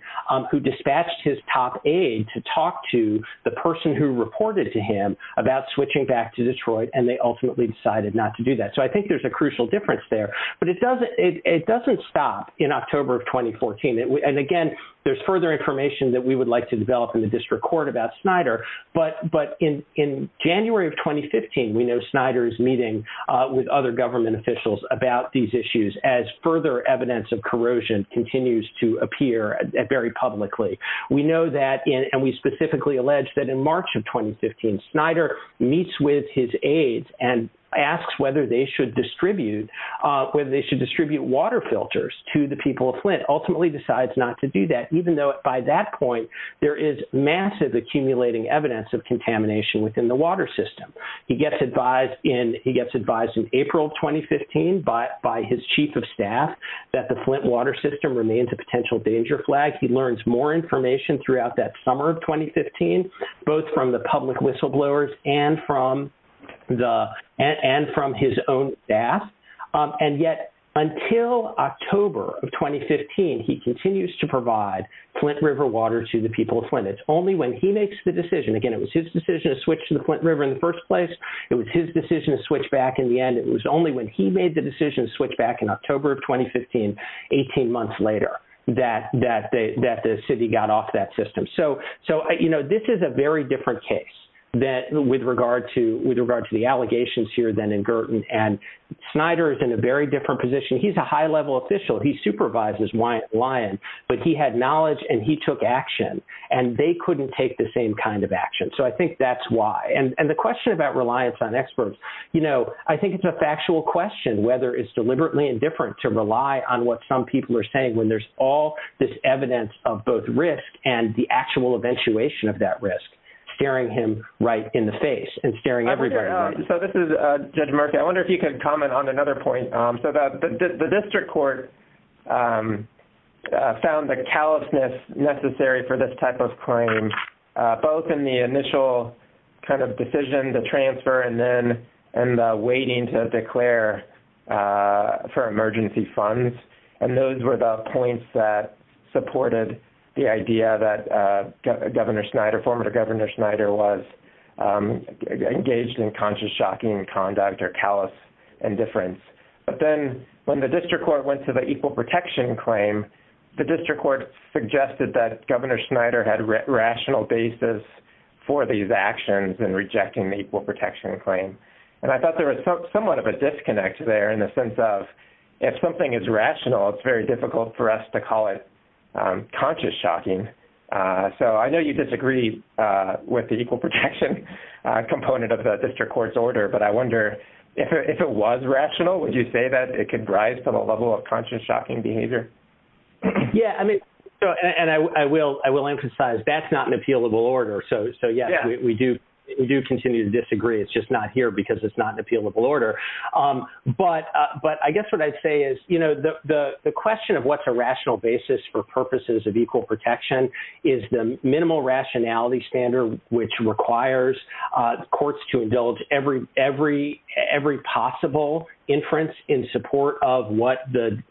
who dispatched his top aide to talk to the person who reported to him about switching back to Detroit, and they ultimately decided not to do that. So I think there's a crucial difference there, but it doesn't stop in October of 2014, and, again, there's further information that we would like to develop in the district court about Snyder, but in January of 2015 we know Snyder is meeting with other government officials about these issues as further evidence of corrosion continues to appear very publicly. We know that, and we specifically allege that in March of 2015, Snyder meets with his aides and asks whether they should distribute water filters to the people of Flint, ultimately decides not to do that, even though by that point there is massive accumulating evidence of contamination within the water system. He gets advised in April of 2015 by his chief of staff that the Flint water system remains a potential danger flag. He learns more information throughout that summer of 2015, both from the public whistleblowers and from his own staff, and yet until October of 2015 he continues to provide Flint River water to the people of Flint. It's only when he makes the decision, again, it was his decision to switch to the Flint River in the first place, it was his decision to switch back in the end, it was only when he made the decision to switch back in October of 2015, 18 months later, that the city got off that system. This is a very different case with regard to the allegations here than in Girton, and Snyder is in a very different position. He's a high-level official. He supervises Lyon, but he had knowledge and he took action, and they couldn't take the same kind of action, so I think that's why. And the question about reliance on experts, I think it's a factual question whether it's deliberately indifferent to rely on what some people are saying when there's all this evidence of both risk and the actual eventuation of that risk staring him right in the face and staring everybody in the face. So this is Judge Murphy. I wonder if you could comment on another point. So the district court found the callousness necessary for this type of claim, both in the initial kind of decision to transfer and then in the waiting to declare for emergency funds, and those were the points that supported the idea that Governor Snyder, former Governor Snyder was engaged in conscious shocking conduct or callous indifference. But then when the district court went to the equal protection claim, the district court suggested that Governor Snyder had rational basis for these actions in rejecting the equal protection claim, and I thought there was somewhat of a disconnect there in the sense of if something is rational, it's very difficult for us to call it conscious shocking. So I know you disagree with the equal protection component of the district court's order, but I wonder if it was rational, would you say that it could drive to the level of conscious shocking behavior? Yeah, and I will emphasize that's not an appealable order. So, yes, we do continue to disagree. It's just not here because it's not an appealable order. But I guess what I'd say is, you know, the question of what's a rational basis for purposes of equal protection is the minimal rationality standard, which requires courts to indulge every possible inference in support of what the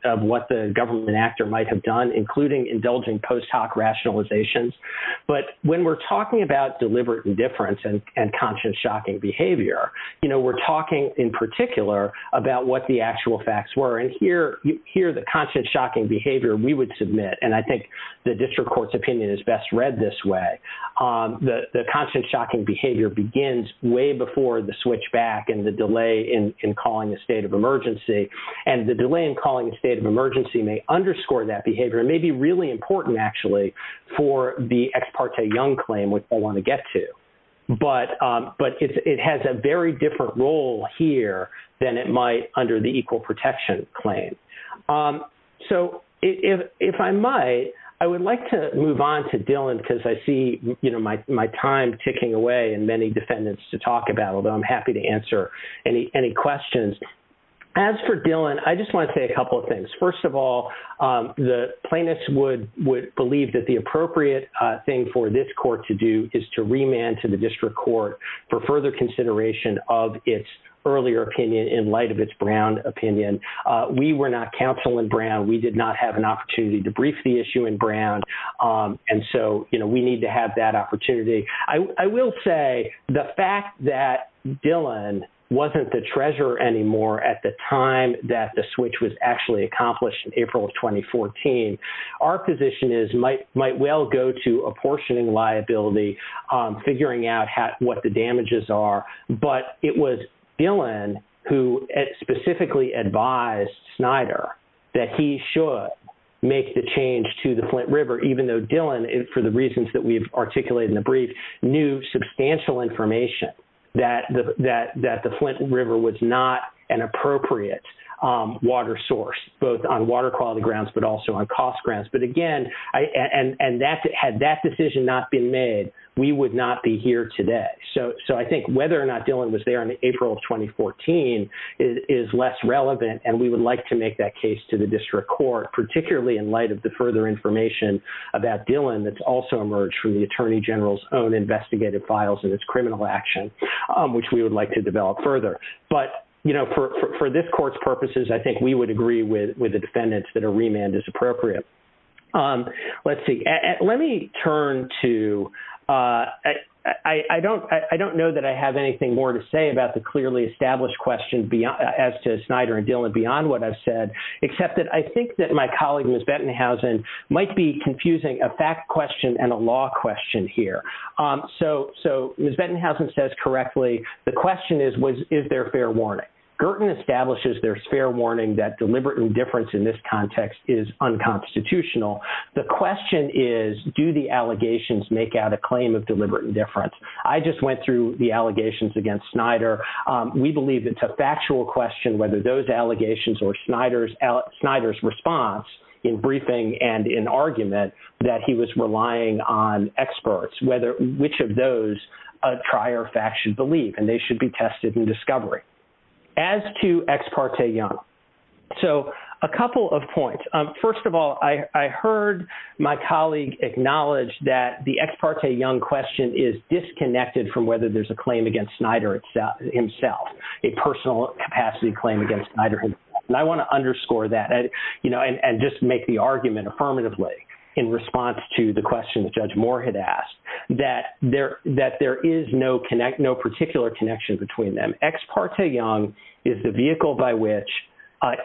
government actor might have done, including indulging post hoc rationalizations. But when we're talking about deliberate indifference and conscious shocking behavior, you know, we're talking in particular about what the actual facts were, and here the conscious shocking behavior we would submit, and I think the district court's opinion is best read this way. The conscious shocking behavior begins way before the switch back and the delay in calling the state of emergency, and the delay in calling the state of emergency may underscore that behavior, may be really important, actually, for the ex parte young claim, which I want to get to. But it has a very different role here than it might under the equal protection claim. So if I might, I would like to move on to Dylan because I see, you know, my time ticking away and many defendants to talk about, although I'm happy to answer any questions. As for Dylan, I just want to say a couple of things. First of all, the plaintiffs would believe that the appropriate thing for this court to do is to remand to the district court for further consideration of its earlier opinion in light of its Brown opinion. We were not counsel in Brown. We did not have an opportunity to brief the issue in Brown. And so, you know, we need to have that opportunity. I will say the fact that Dylan wasn't the treasurer anymore at the time that the switch was actually accomplished in April of 2014, our position is might well go to apportioning liability, figuring out what the damages are. But it was Dylan who specifically advised Snyder that he should make the change to the Flint River, even though Dylan, for the reasons that we've articulated in the brief, knew substantial information that the Flint River was not an appropriate water source, both on water quality grounds but also on cost grounds. But again, and had that decision not been made, we would not be here today. So I think whether or not Dylan was there in April of 2014 is less relevant, and we would like to make that case to the district court, particularly in light of the further information about Dylan that's also emerged from the Attorney General's own investigative files and its criminal action, which we would like to develop further. But, you know, for this court's purposes, I think we would agree with the defendants that a remand is appropriate. Let's see. Let me turn to – I don't know that I have anything more to say about the clearly established question as to Snyder and Dylan beyond what I've said, except that I think that my colleague, Ms. Bettenhausen, might be confusing a fact question and a law question here. So Ms. Bettenhausen says correctly, the question is, is there fair warning? Gerten establishes there's fair warning that deliberate indifference in this context is unconstitutional. The question is, do the allegations make out a claim of deliberate indifference? I just went through the allegations against Snyder. We believe it's a factual question whether those allegations or Snyder's response in briefing and in argument that he was relying on experts, which of those a trier fact should believe, and they should be tested in discovery. As to Ex Parte Young, so a couple of points. First of all, I heard my colleague acknowledge that the Ex Parte Young question is disconnected from whether there's a claim against Snyder himself, a personal capacity claim against Snyder himself. And I want to underscore that, you know, and just make the argument affirmatively in response to the question that Judge Moore had asked, that there is no particular connection between them. Ex Parte Young is the vehicle by which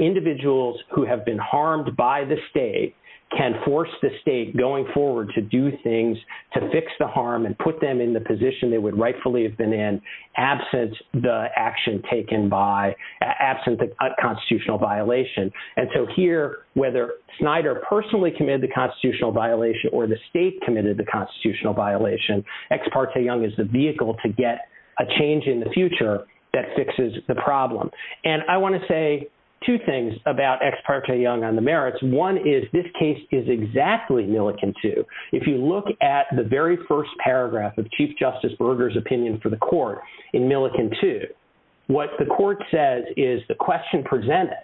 individuals who have been harmed by the state can force the state going forward to do things to fix the harm and put them in the position they would rightfully have been in absent the action taken by, absent a constitutional violation. And so here, whether Snyder personally committed the constitutional violation or the state committed the constitutional violation, Ex Parte Young is the vehicle to get a change in the future that fixes the problem. And I want to say two things about Ex Parte Young on the merits. One is this case is exactly Millikin 2. If you look at the very first paragraph of Chief Justice Berger's opinion for the court in Millikin 2, what the court says is the question presented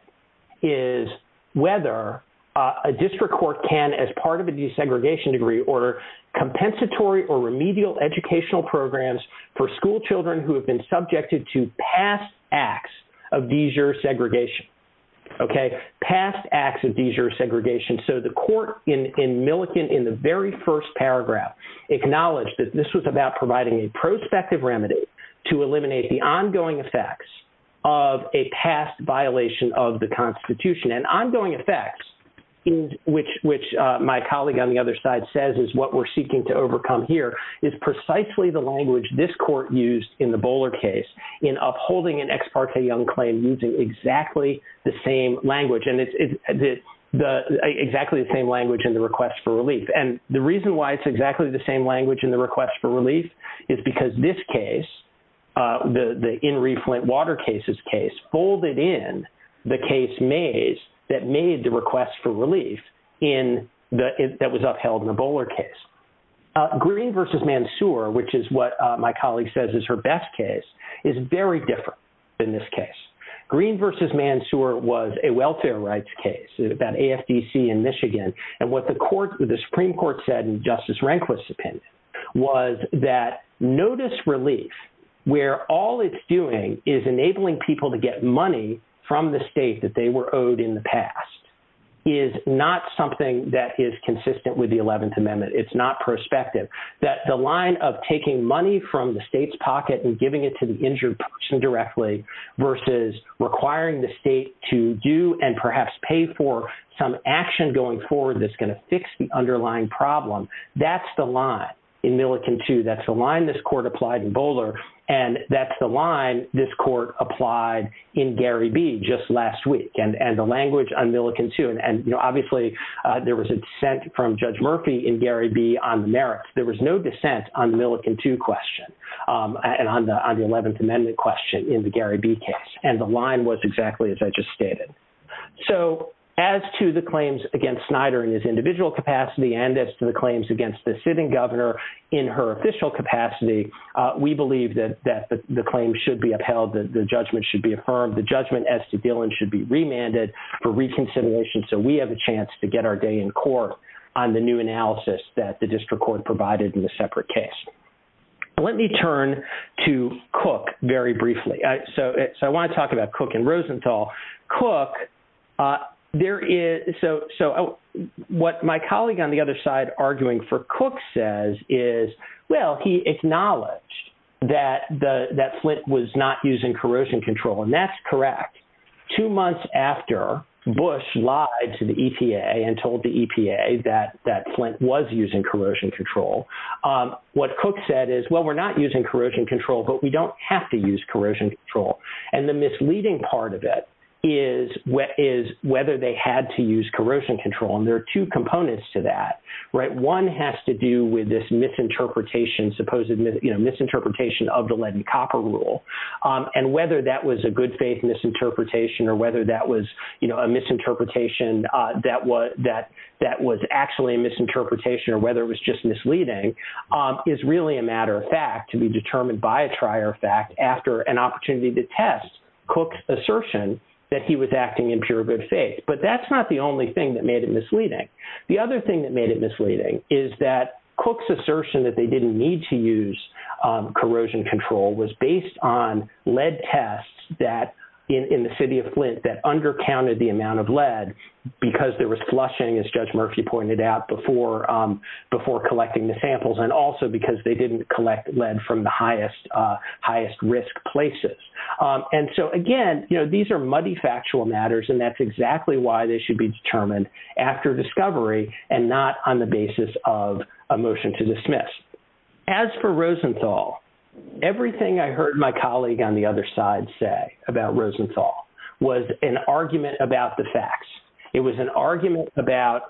is whether a district court can, as part of a desegregation degree, order compensatory or remedial educational programs for school children who have been subjected to past acts of desegregation. Okay, past acts of desegregation. So the court in Millikin, in the very first paragraph, acknowledged that this was about providing a prospective remedy to eliminate the ongoing effects of a past violation of the Constitution. And ongoing effects, which my colleague on the other side says is what we're seeking to overcome here, is precisely the language this court used in the Bowler case in upholding an Ex Parte Young claim using exactly the same language. And it's exactly the same language in the request for relief. And the reason why it's exactly the same language in the request for relief is because this case, the In Re Flint Water cases case, folded in the case maze that made the request for relief that was upheld in the Bowler case. Green v. Mansour, which is what my colleague says is her best case, is very different than this case. Green v. Mansour was a welfare rights case, about AFDC in Michigan. And what the Supreme Court said in Justice Rehnquist's opinion was that notice relief, where all it's doing is enabling people to get money from the state that they were owed in the past, is not something that is consistent with the 11th Amendment. It's not prospective. That the line of taking money from the state's pocket and giving it to the injured person directly versus requiring the state to do and perhaps pay for some action going forward that's going to fix the underlying problem, that's the line in Millikin 2. That's the line this court applied in Bowler, and that's the line this court applied in Gary B. just last week, and the language on Millikin 2. And, you know, obviously there was a dissent from Judge Murphy in Gary B. on the merits. There was no dissent on the Millikin 2 question and on the 11th Amendment question in the Gary B. case. And the line was exactly as I just stated. So as to the claims against Snyder in his individual capacity and as to the claims against the sitting governor in her official capacity, we believe that the claim should be upheld, that the judgment should be affirmed, the judgment as to Dillon should be remanded for reconsideration so we have a chance to get our day in court on the new analysis that the district court provided in the separate case. Let me turn to Cook very briefly. So I want to talk about Cook and Rosenthal. Cook, there is, so what my colleague on the other side arguing for Cook says is, well, he acknowledged that Flint was not using corrosion control, and that's correct. Two months after Bush lied to the EPA and told the EPA that Flint was using corrosion control, what Cook said is, well, we're not using corrosion control, but we don't have to use corrosion control. And the misleading part of it is whether they had to use corrosion control. And there are two components to that, right? One has to do with this misinterpretation, supposed misinterpretation of the Lenny Copper rule and whether that was a good faith misinterpretation or whether that was a misinterpretation that was actually a misinterpretation or whether it was just misleading is really a matter of fact to be determined by a trier fact after an opportunity to test Cook's assertion that he was acting in pure good faith. But that's not the only thing that made it misleading. The other thing that made it misleading is that Cook's assertion that they didn't need to use corrosion control was based on lead tests in the city of Flint that undercounted the amount of lead because there was flushing, as Judge Murphy pointed out, before collecting the samples and also because they didn't collect lead from the highest risk places. And so, again, you know, these are muddy factual matters, and that's exactly why they should be determined after discovery and not on the basis of a motion to dismiss. As for Rosenthal, everything I heard my colleague on the other side say about Rosenthal was an argument about the facts. It was an argument about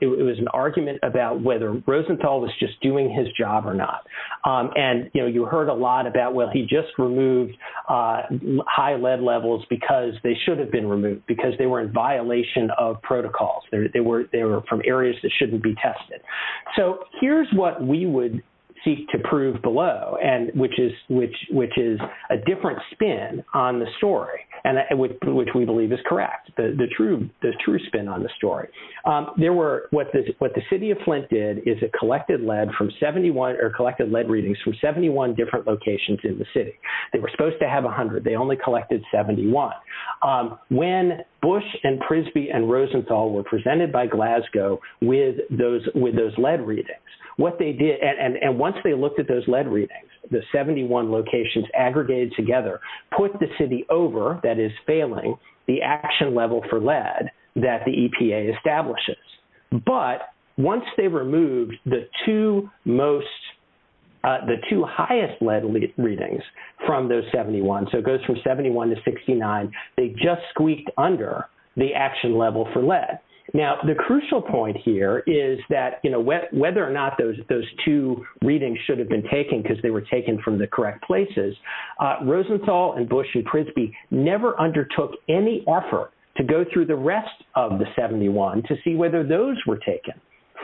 whether Rosenthal was just doing his job or not. And, you know, you heard a lot about, well, he just removed high lead levels because they should have been removed, because they were in violation of protocols. They were from areas that shouldn't be tested. So here's what we would seek to prove below, which is a different spin on the story, which we believe is correct, the true spin on the story. What the city of Flint did is it collected lead readings from 71 different locations in the city. They were supposed to have 100. They only collected 71. When Bush and Prisby and Rosenthal were presented by Glasgow with those lead readings, what they did, and once they looked at those lead readings, the 71 locations aggregated together, put the city over, that is failing, the action level for lead that the EPA establishes. But once they removed the two most, the two highest lead readings from those 71, so it goes from 71 to 69, they just squeaked under the action level for lead. Now, the crucial point here is that, you know, whether or not those two readings should have been taken because they were taken from the correct places, Rosenthal and Bush and Prisby never undertook any effort to go through the rest of the 71 to see whether those were taken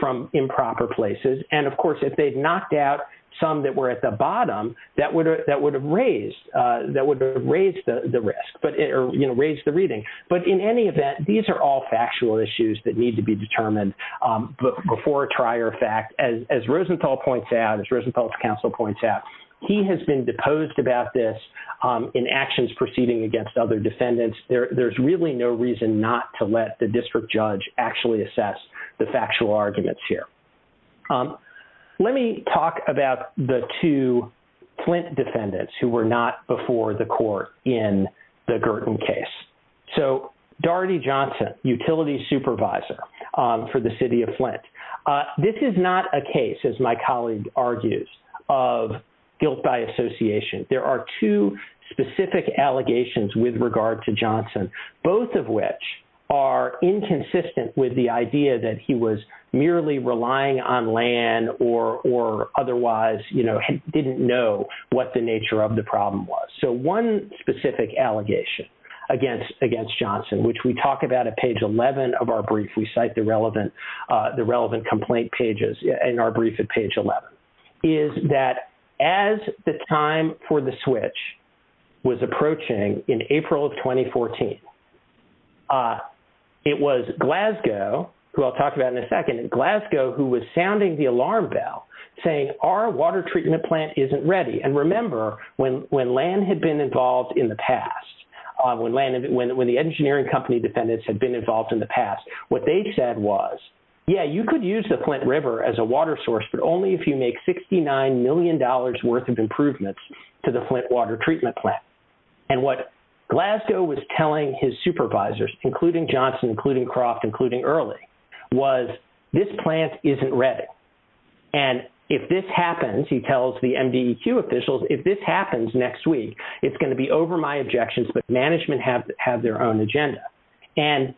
from improper places. And, of course, if they'd knocked out some that were at the bottom, that would have raised the risk, or, you know, raised the reading. But in any event, these are all factual issues that need to be determined before a trier of fact. As Rosenthal points out, as Rosenthal's counsel points out, he has been deposed about this in actions proceeding against other defendants. There's really no reason not to let the district judge actually assess the factual arguments here. Let me talk about the two Flint defendants who were not before the court in the Girton case. So, Doherty Johnson, utility supervisor for the city of Flint. This is not a case, as my colleague argues, of guilt by association. There are two specific allegations with regard to Johnson, both of which are inconsistent with the idea that he was merely relying on land or otherwise, you know, didn't know what the nature of the problem was. So one specific allegation against Johnson, which we talk about at page 11 of our brief, we cite the relevant complaint pages in our brief at page 11, is that as the time for the switch was approaching in April of 2014, it was Glasgow, who I'll talk about in a second, Glasgow who was sounding the alarm bell saying our water treatment plant isn't ready. And remember, when land had been involved in the past, when the engineering company defendants had been involved in the past, what they said was, yeah, you could use the Flint River as a water source, but only if you make $69 million worth of improvements to the Flint water treatment plant. And what Glasgow was telling his supervisors, including Johnson, including Croft, including Early, was this plant isn't ready. And if this happens, he tells the NDEQ officials, if this happens next week, it's going to be over my objections, but management have their own agenda. And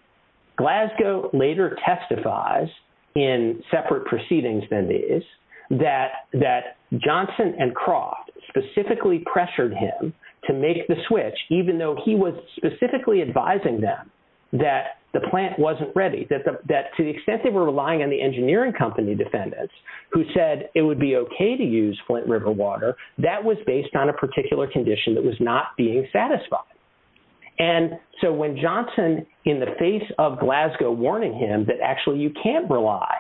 Glasgow later testifies in separate proceedings than these, that Johnson and Croft specifically pressured him to make the switch, even though he was specifically advising them that the plant wasn't ready, that to the extent they were relying on the engineering company defendants, who said it would be okay to use Flint River water, that was based on a particular condition that was not being satisfied. And so when Johnson, in the face of Glasgow warning him that actually you can't rely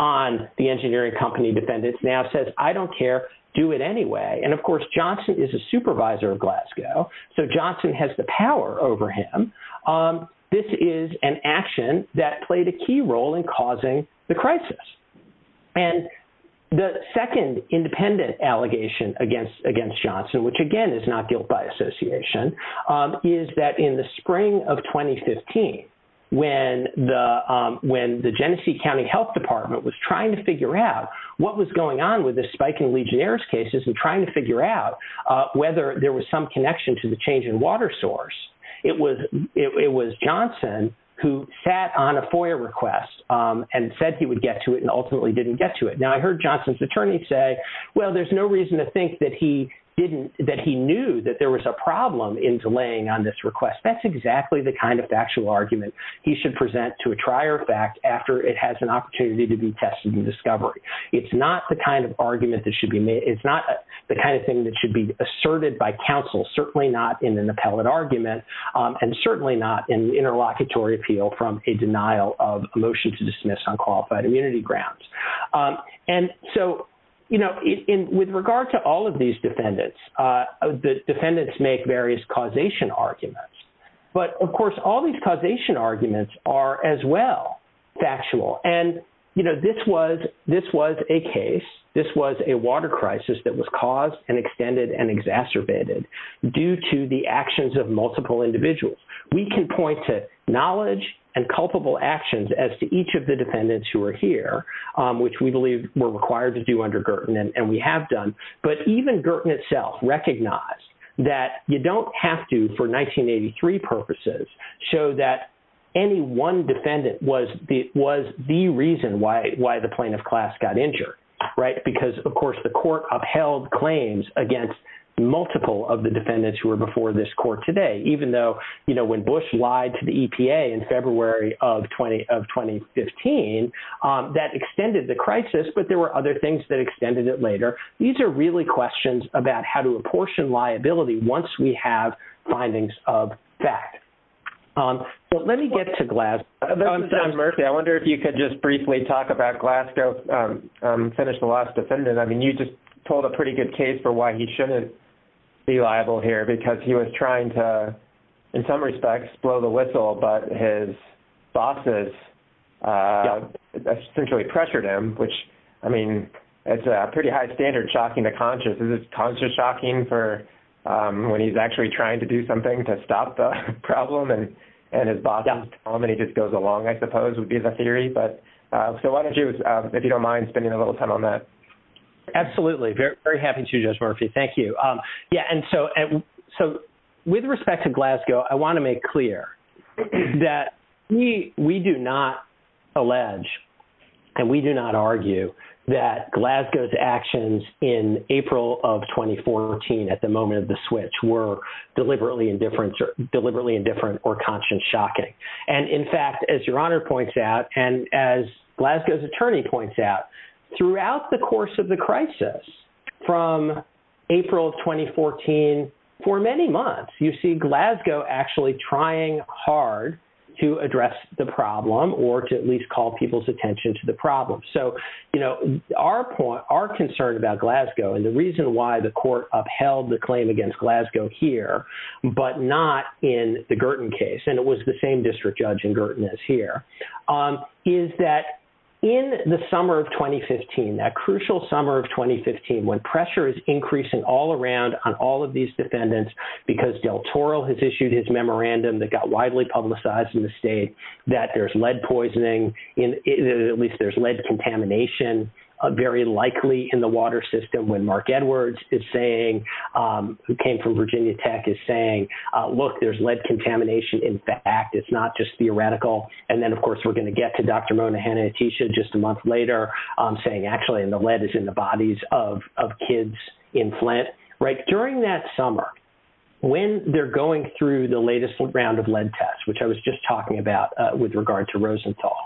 on the engineering company defendants, now says, I don't care, do it anyway. And of course, Johnson is a supervisor of Glasgow, so Johnson has the power over him. This is an action that played a key role in causing the crisis. And the second independent allegation against Johnson, which again is not built by association, is that in the spring of 2015, when the Genesee County Health Department was trying to figure out what was going on with the spiking Legionnaires cases and trying to figure out whether there was some connection to the change in water source, it was Johnson who sat on a FOIA request and said he would get to it and ultimately didn't get to it. Now I heard Johnson's attorney say, well, there's no reason to think that he knew that there was a problem in delaying on this request. That's exactly the kind of factual argument he should present to a trier of fact after it has an opportunity to be tested and discovered. It's not the kind of argument that should be made. It's not the kind of thing that should be asserted by counsel, certainly not in an appellate argument, and certainly not in an interlocutory appeal from a denial of a motion to dismiss on qualified immunity grounds. And so, you know, with regard to all of these defendants, the defendants make various causation arguments. But, of course, all these causation arguments are as well factual. And, you know, this was a case. This was a water crisis that was caused and extended and exacerbated due to the actions of multiple individuals. We can point to knowledge and culpable actions as to each of the defendants who were here, which we believe were required to do under Girton, and we have done. But even Girton itself recognized that you don't have to, for 1983 purposes, show that any one defendant was the reason why the plaintiff class got injured, right? Because, of course, the court upheld claims against multiple of the defendants who were before this court today, even though, you know, when Bush lied to the EPA in February of 2015, that extended the crisis, but there were other things that extended it later. These are really questions about how to apportion liability once we have findings of fact. But let me get to Glasgow. I wonder if you could just briefly talk about Glasgow's finished the last defendant. I mean, you just told a pretty good case for why he shouldn't be liable here, because he was trying to, in some respects, blow the whistle, but his bosses essentially pressured him, which, I mean, it's a pretty high standard shocking the conscious. Is this conscious shocking for when he's actually trying to do something to stop the problem, and his bosses tell him, and he just goes along, I suppose, would be the theory. So why don't you, if you don't mind, spend a little time on that. Absolutely. Very happy to, Judge Murphy. Thank you. Yeah, and so with respect to Glasgow, I want to make clear that we do not allege and we do not argue that Glasgow's actions in April of 2014 at the moment of the switch were deliberately indifferent or conscious shocking. And, in fact, as Your Honor points out and as Glasgow's attorney points out, throughout the course of the crisis from April of 2014, for many months, you see Glasgow actually trying hard to address the problem or to at least call people's attention to the problem. So our point, our concern about Glasgow, and the reason why the court upheld the claim against Glasgow here but not in the Girton case, and it was the same district judge in Girton as here, is that in the summer of 2015, that crucial summer of 2015, when pressure is increasing all around on all of these defendants because Del Toro has issued his memorandum that got widely publicized in the state that there's lead poisoning, at least there's lead contamination, very likely in the water system when Mark Edwards is saying, who came from Virginia Tech, is saying, look, there's lead contamination. In fact, it's not just theoretical. And then, of course, we're going to get to Dr. Monahan and Atisha just a month later saying actually the lead is in the bodies of kids in Flint. During that summer, when they're going through the latest round of lead tests, which I was just talking about with regard to Rosenthal,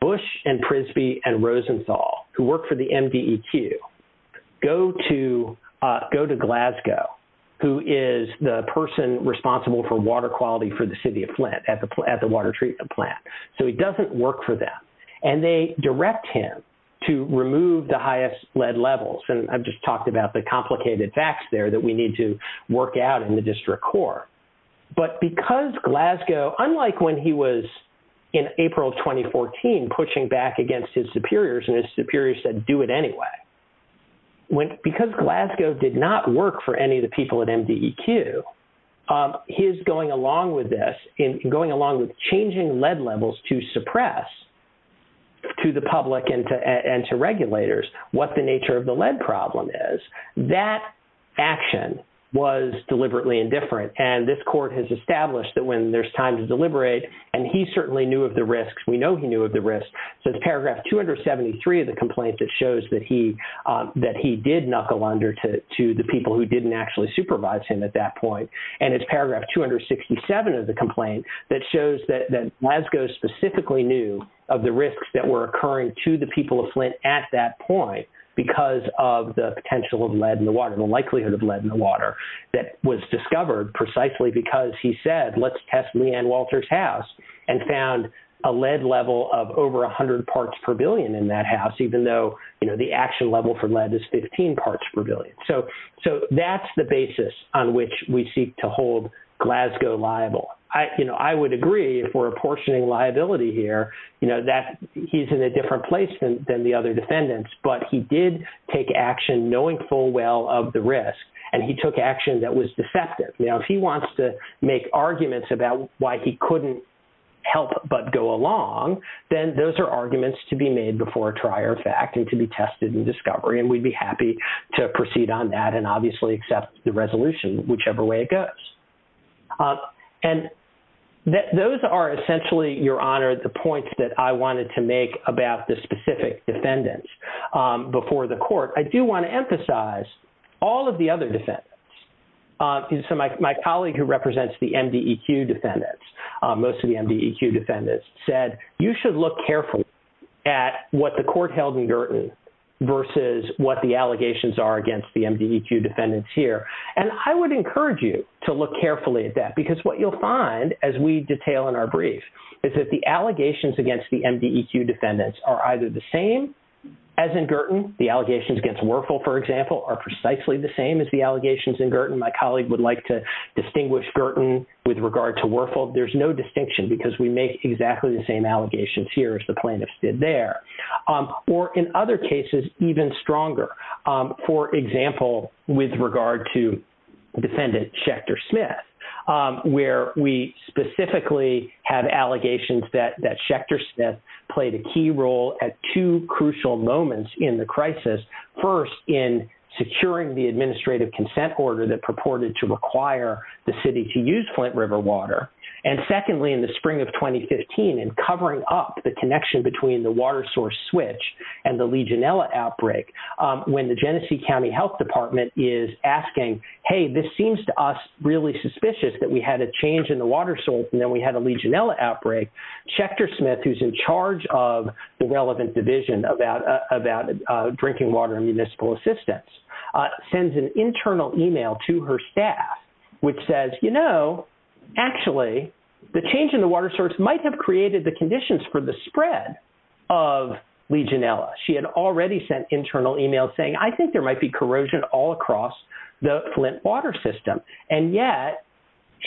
Bush and Prisby and Rosenthal, who work for the NDEQ, go to Glasgow, who is the person responsible for water quality for the city of Flint at the water treatment plant. So he doesn't work for them. And they direct him to remove the highest lead levels. And I've just talked about the complicated facts there that we need to work out in the district court. But because Glasgow, unlike when he was in April of 2014 pushing back against his superiors and his superiors said do it anyway, because Glasgow did not work for any of the people at NDEQ, his going along with this, going along with changing lead levels to suppress to the public and to regulators what the nature of the lead problem is, that action was deliberately indifferent. And this court has established that when there's time to deliberate, and he certainly knew of the risks. We know he knew of the risks. So it's paragraph 273 of the complaint that shows that he did knuckle under to the people who didn't actually supervise him at that point. And it's paragraph 267 of the complaint that shows that Glasgow specifically knew of the risks that were occurring to the people of Flint at that point because of the potential of lead in the water, the likelihood of lead in the water that was discovered precisely because he said let's test Leanne Walter's house and found a lead level of over 100 parts per billion in that house even though, you know, the action level for lead is 15 parts per billion. So that's the basis on which we seek to hold Glasgow liable. You know, I would agree if we're apportioning liability here, you know, that he's in a different place than the other defendants, but he did take action knowing full well of the risks, and he took action that was deceptive. Now if he wants to make arguments about why he couldn't help but go along, then those are arguments to be made before a trier fact and to be tested in discovery, and we'd be happy to proceed on that and obviously accept the resolution whichever way it goes. And those are essentially, Your Honor, the points that I wanted to make about the specific defendants before the court. I do want to emphasize all of the other defendants. So my colleague who represents the MDEQ defendants, most of the MDEQ defendants, said you should look carefully at what the court held in Girton versus what the allegations are against the MDEQ defendants here, and I would encourage you to look carefully at that because what you'll find, as we detail in our brief, is that the allegations against the MDEQ defendants are either the same as in Girton, the allegations against Werfel, for example, are precisely the same as the allegations in Girton. My colleague would like to distinguish Girton with regard to Werfel. There's no distinction because we make exactly the same allegations here as the plaintiffs did there. Or in other cases, even stronger. For example, with regard to defendant Schechter-Smith, where we specifically have allegations that Schechter-Smith played a key role at two crucial moments in the crisis. First, in securing the administrative consent order that purported to require the city to use Flint River water. And secondly, in the spring of 2015, in covering up the connection between the water source switch and the Legionella outbreak, when the Genesee County Health Department is asking, hey, this seems to us really suspicious that we had a change in the water source and then we had a Legionella outbreak. Schechter-Smith, who's in charge of the relevant division about drinking water and municipal assistance, sends an internal email to her staff which says, you know, actually the change in the water source might have created the conditions for the spread of Legionella. She had already sent internal emails saying, I think there might be corrosion all across the Flint water system. And yet,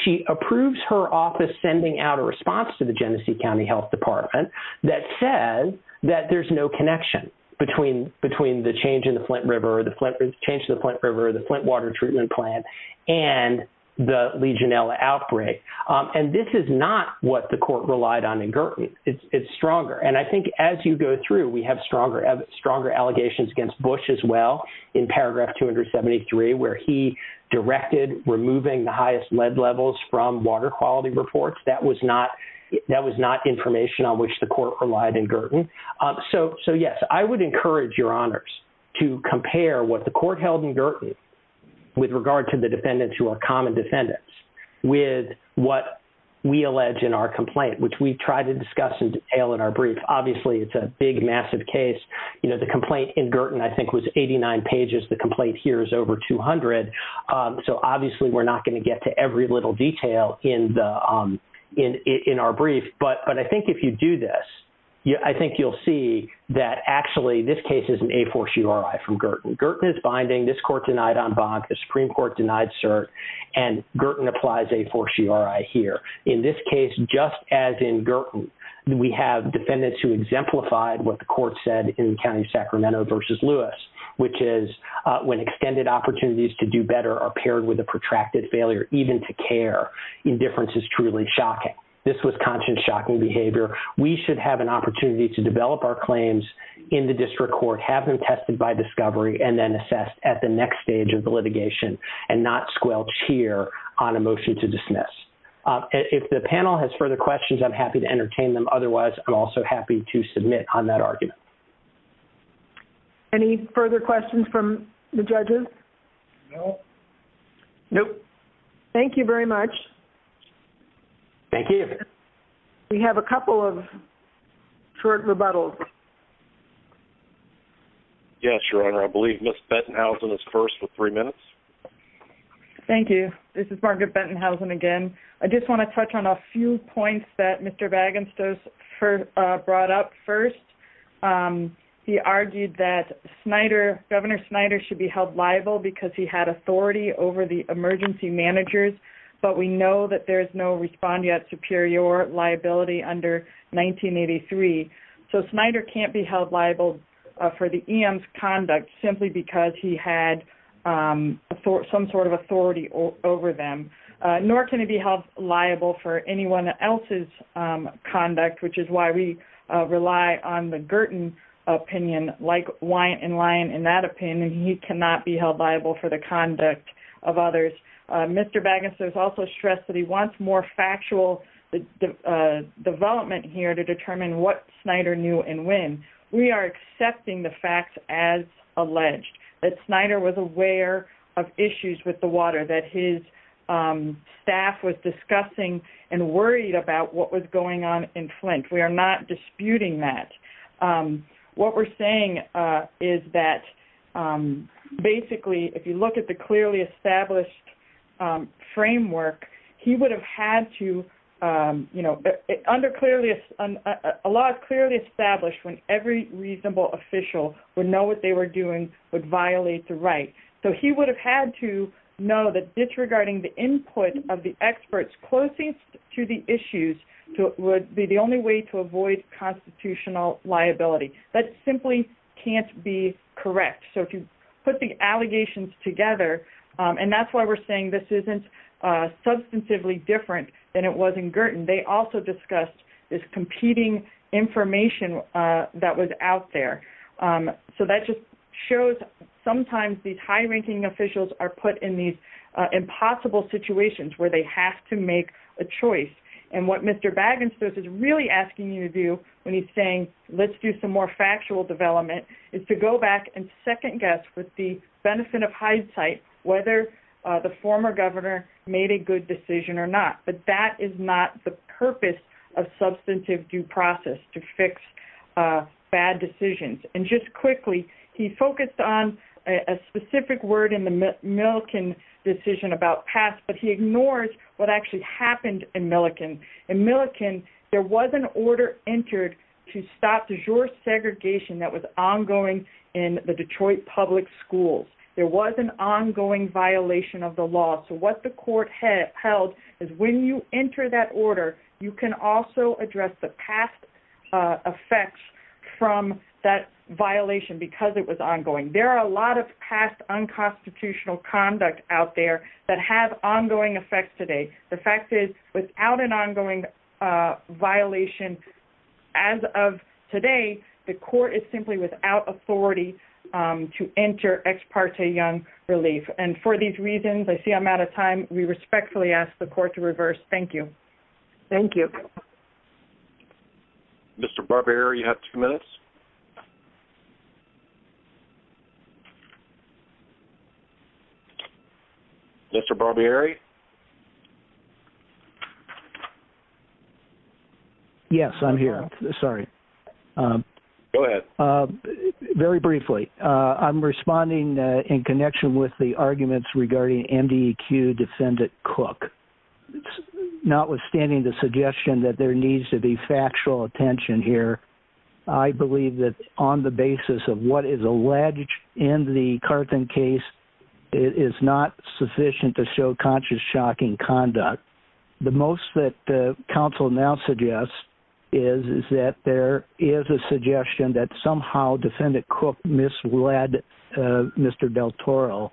she approves her office sending out a response to the Genesee County Health Department that says that there's no connection between the change in the Flint River or the Flint water treatment plant and the Legionella outbreak. And this is not what the court relied on in Girton. It's stronger. And I think as you go through, we have stronger allegations against Bush as well in paragraph 273 where he directed removing the highest lead levels from water quality reports. That was not information on which the court relied in Girton. So, yes, I would encourage your honors to compare what the court held in Girton with regard to the defendants who are common defendants with what we allege in our complaint, which we try to discuss in detail in our brief. Obviously, it's a big, massive case. You know, the complaint in Girton, I think, was 89 pages. The complaint here is over 200. So, obviously, we're not going to get to every little detail in our brief. But I think if you do this, I think you'll see that, actually, this case is an a force URI from Girton. Girton is binding. This court denied en banc. The Supreme Court denied cert. And Girton applies a force URI here. In this case, just as in Girton, we have defendants who exemplified what the court said in the county of Sacramento versus Lewis, which is when extended opportunities to do better are paired with a protracted failure even to care. Indifference is truly shocking. This was conscious shocking behavior. We should have an opportunity to develop our claims in the district court, have them tested by discovery, and then assessed at the next stage of the litigation and not squelch here on a motion to dismiss. If the panel has further questions, I'm happy to entertain them. Otherwise, I'm also happy to submit on that argument. Any further questions from the judges? No. No. Thank you very much. Thank you. We have a couple of court rebuttals. Yes, Your Honor. I believe Ms. Bettenhausen is first for three minutes. Thank you. This is Margaret Bettenhausen again. I just want to touch on a few points that Mr. Wagenstos brought up first. He argued that Governor Snyder should be held liable because he had authority over the emergency managers, but we know that there is no respondeat superior liability under 1983. So Snyder can't be held liable for the EM's conduct simply because he had some sort of authority over them. Nor can he be held liable for anyone else's conduct, which is why we rely on the Girton opinion. Like Wyatt and Lyon in that opinion, he cannot be held liable for the conduct of others. Mr. Wagenstos also stressed that he wants more factual development here to determine what Snyder knew and when. We are accepting the facts as alleged, that Snyder was aware of issues with the water, that his staff was discussing and worried about what was going on in Flint. We are not disputing that. What we're saying is that basically, if you look at the clearly established framework, he would have had to, you know, under a law clearly established when every reasonable official would know what they were doing would violate the right. So he would have had to know that disregarding the input of the experts closest to the issues would be the only way to avoid constitutional liability. That simply can't be correct. So to put the allegations together, and that's why we're saying this isn't substantively different than it was in Girton, they also discussed this competing information that was out there. So that just shows sometimes these high-ranking officials are put in these impossible situations where they have to make a choice. And what Mr. Wagenstos is really asking you to do when he's saying, let's do some more factual development, is to go back and second guess with the benefit of hindsight whether the former governor made a good decision or not. But that is not the purpose of substantive due process to fix bad decisions. And just quickly, he focused on a specific word in the Milliken decision about past, but he ignores what actually happened in Milliken. In Milliken, there was an order entered to stop the segregation that was ongoing in the Detroit public schools. There was an ongoing violation of the law. So what the court held is when you enter that order, you can also address the past effects from that violation because it was ongoing. There are a lot of past unconstitutional conduct out there that have ongoing effects today. The fact is without an ongoing violation as of today, the court is simply without authority to enter ex parte young relief. And for these reasons, I see I'm out of time. We respectfully ask the court to reverse. Thank you. Thank you. Mr. Barbieri, you have two minutes. Mr. Barbieri. Yes, I'm here. Sorry. Go ahead. Very briefly. I'm responding in connection with the arguments regarding MDQ defendant cook. Notwithstanding the suggestion that there needs to be factual attention here. I believe that on the basis of what is alleged in the carton case, it is not sufficient to show conscious shocking conduct. The most that the council now suggests is, is that there is a suggestion that somehow defendant cook misled Mr. Del Toro.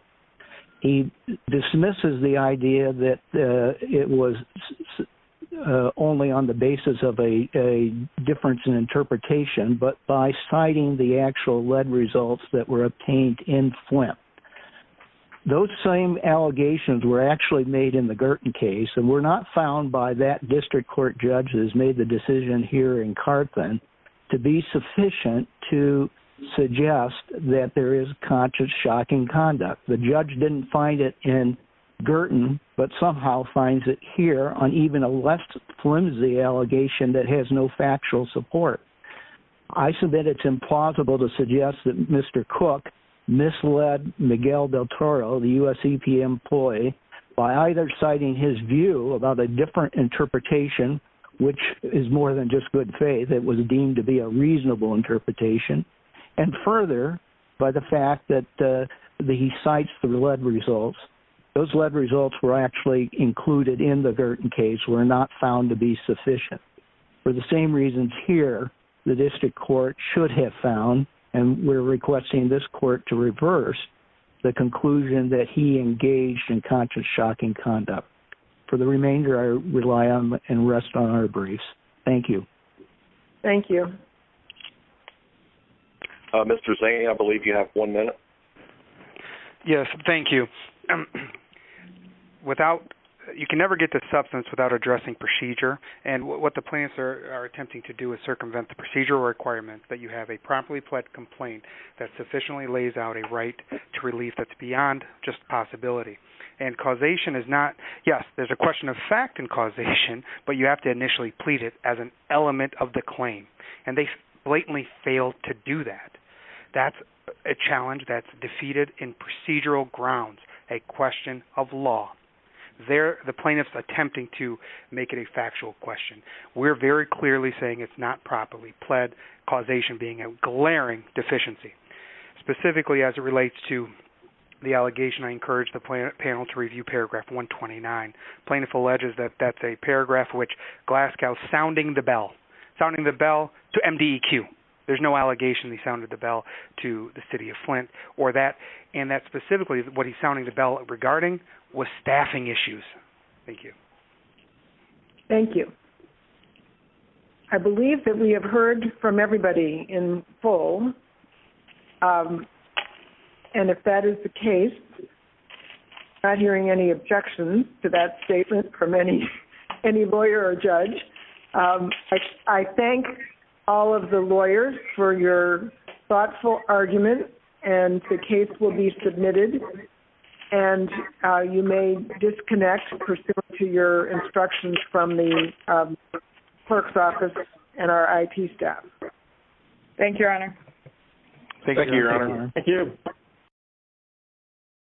He dismisses the idea that it was only on the basis of a difference in interpretation, but by citing the actual lead results that were obtained in Flint, those same allegations were actually made in the Gerten case. And we're not found by that district court judges made the decision here to be sufficient to suggest that there is conscious shocking conduct. The judge didn't find it in Gerten, but somehow finds it here on even a left flimsy allegation that has no factual support. I submit it's implausible to suggest that Mr. Cook misled Miguel Del Toro, the U S E P employee by either citing his view about a different interpretation, which is more than just good faith that was deemed to be a reasonable interpretation. And further by the fact that the sites, the lead results, those lead results were actually included in the Gerten case. We're not found to be sufficient for the same reasons here. The district court should have found, and we're requesting this court to reverse the conclusion that he engaged in conscious shocking conduct for the remainder. I rely on and rest on our briefs. Thank you. Thank you. Mr. Zane. I believe you have one minute. Yes. Thank you. Without you can never get to substance without addressing procedure. And what the plans are attempting to do is circumvent the procedure requirements that you have a properly fled complaint that sufficiently lays out a right to relief. That's beyond just possibility and causation is not. Yes. There's a question of fact and causation, but you have to initially please it as an element of the claim. And they blatantly failed to do that. That's a challenge that's defeated in procedural grounds, a question of law there. The plaintiff's attempting to make it a factual question. We're very clearly saying it's not properly pled causation, being a glaring deficiency specifically as it relates to the allegation. I encourage the panel to review paragraph 129. Plaintiff alleges that that's a paragraph which Glasgow sounding the bell, sounding the bell to MDQ. There's no allegation. He sounded the bell to the city of Flint or that. And that's specifically what he's sounding the bell regarding was staffing issues. Thank you. Thank you. I believe that we have heard from everybody in full. And if that is the case, not hearing any objections to that statement from any, any lawyer or judge, I thank all of the lawyers for your thoughtful argument. And the case will be submitted. And you may disconnect to your instructions from the perks office and our IT staff. Thank you. Thank you, Your Honor. Thank you. Thank you.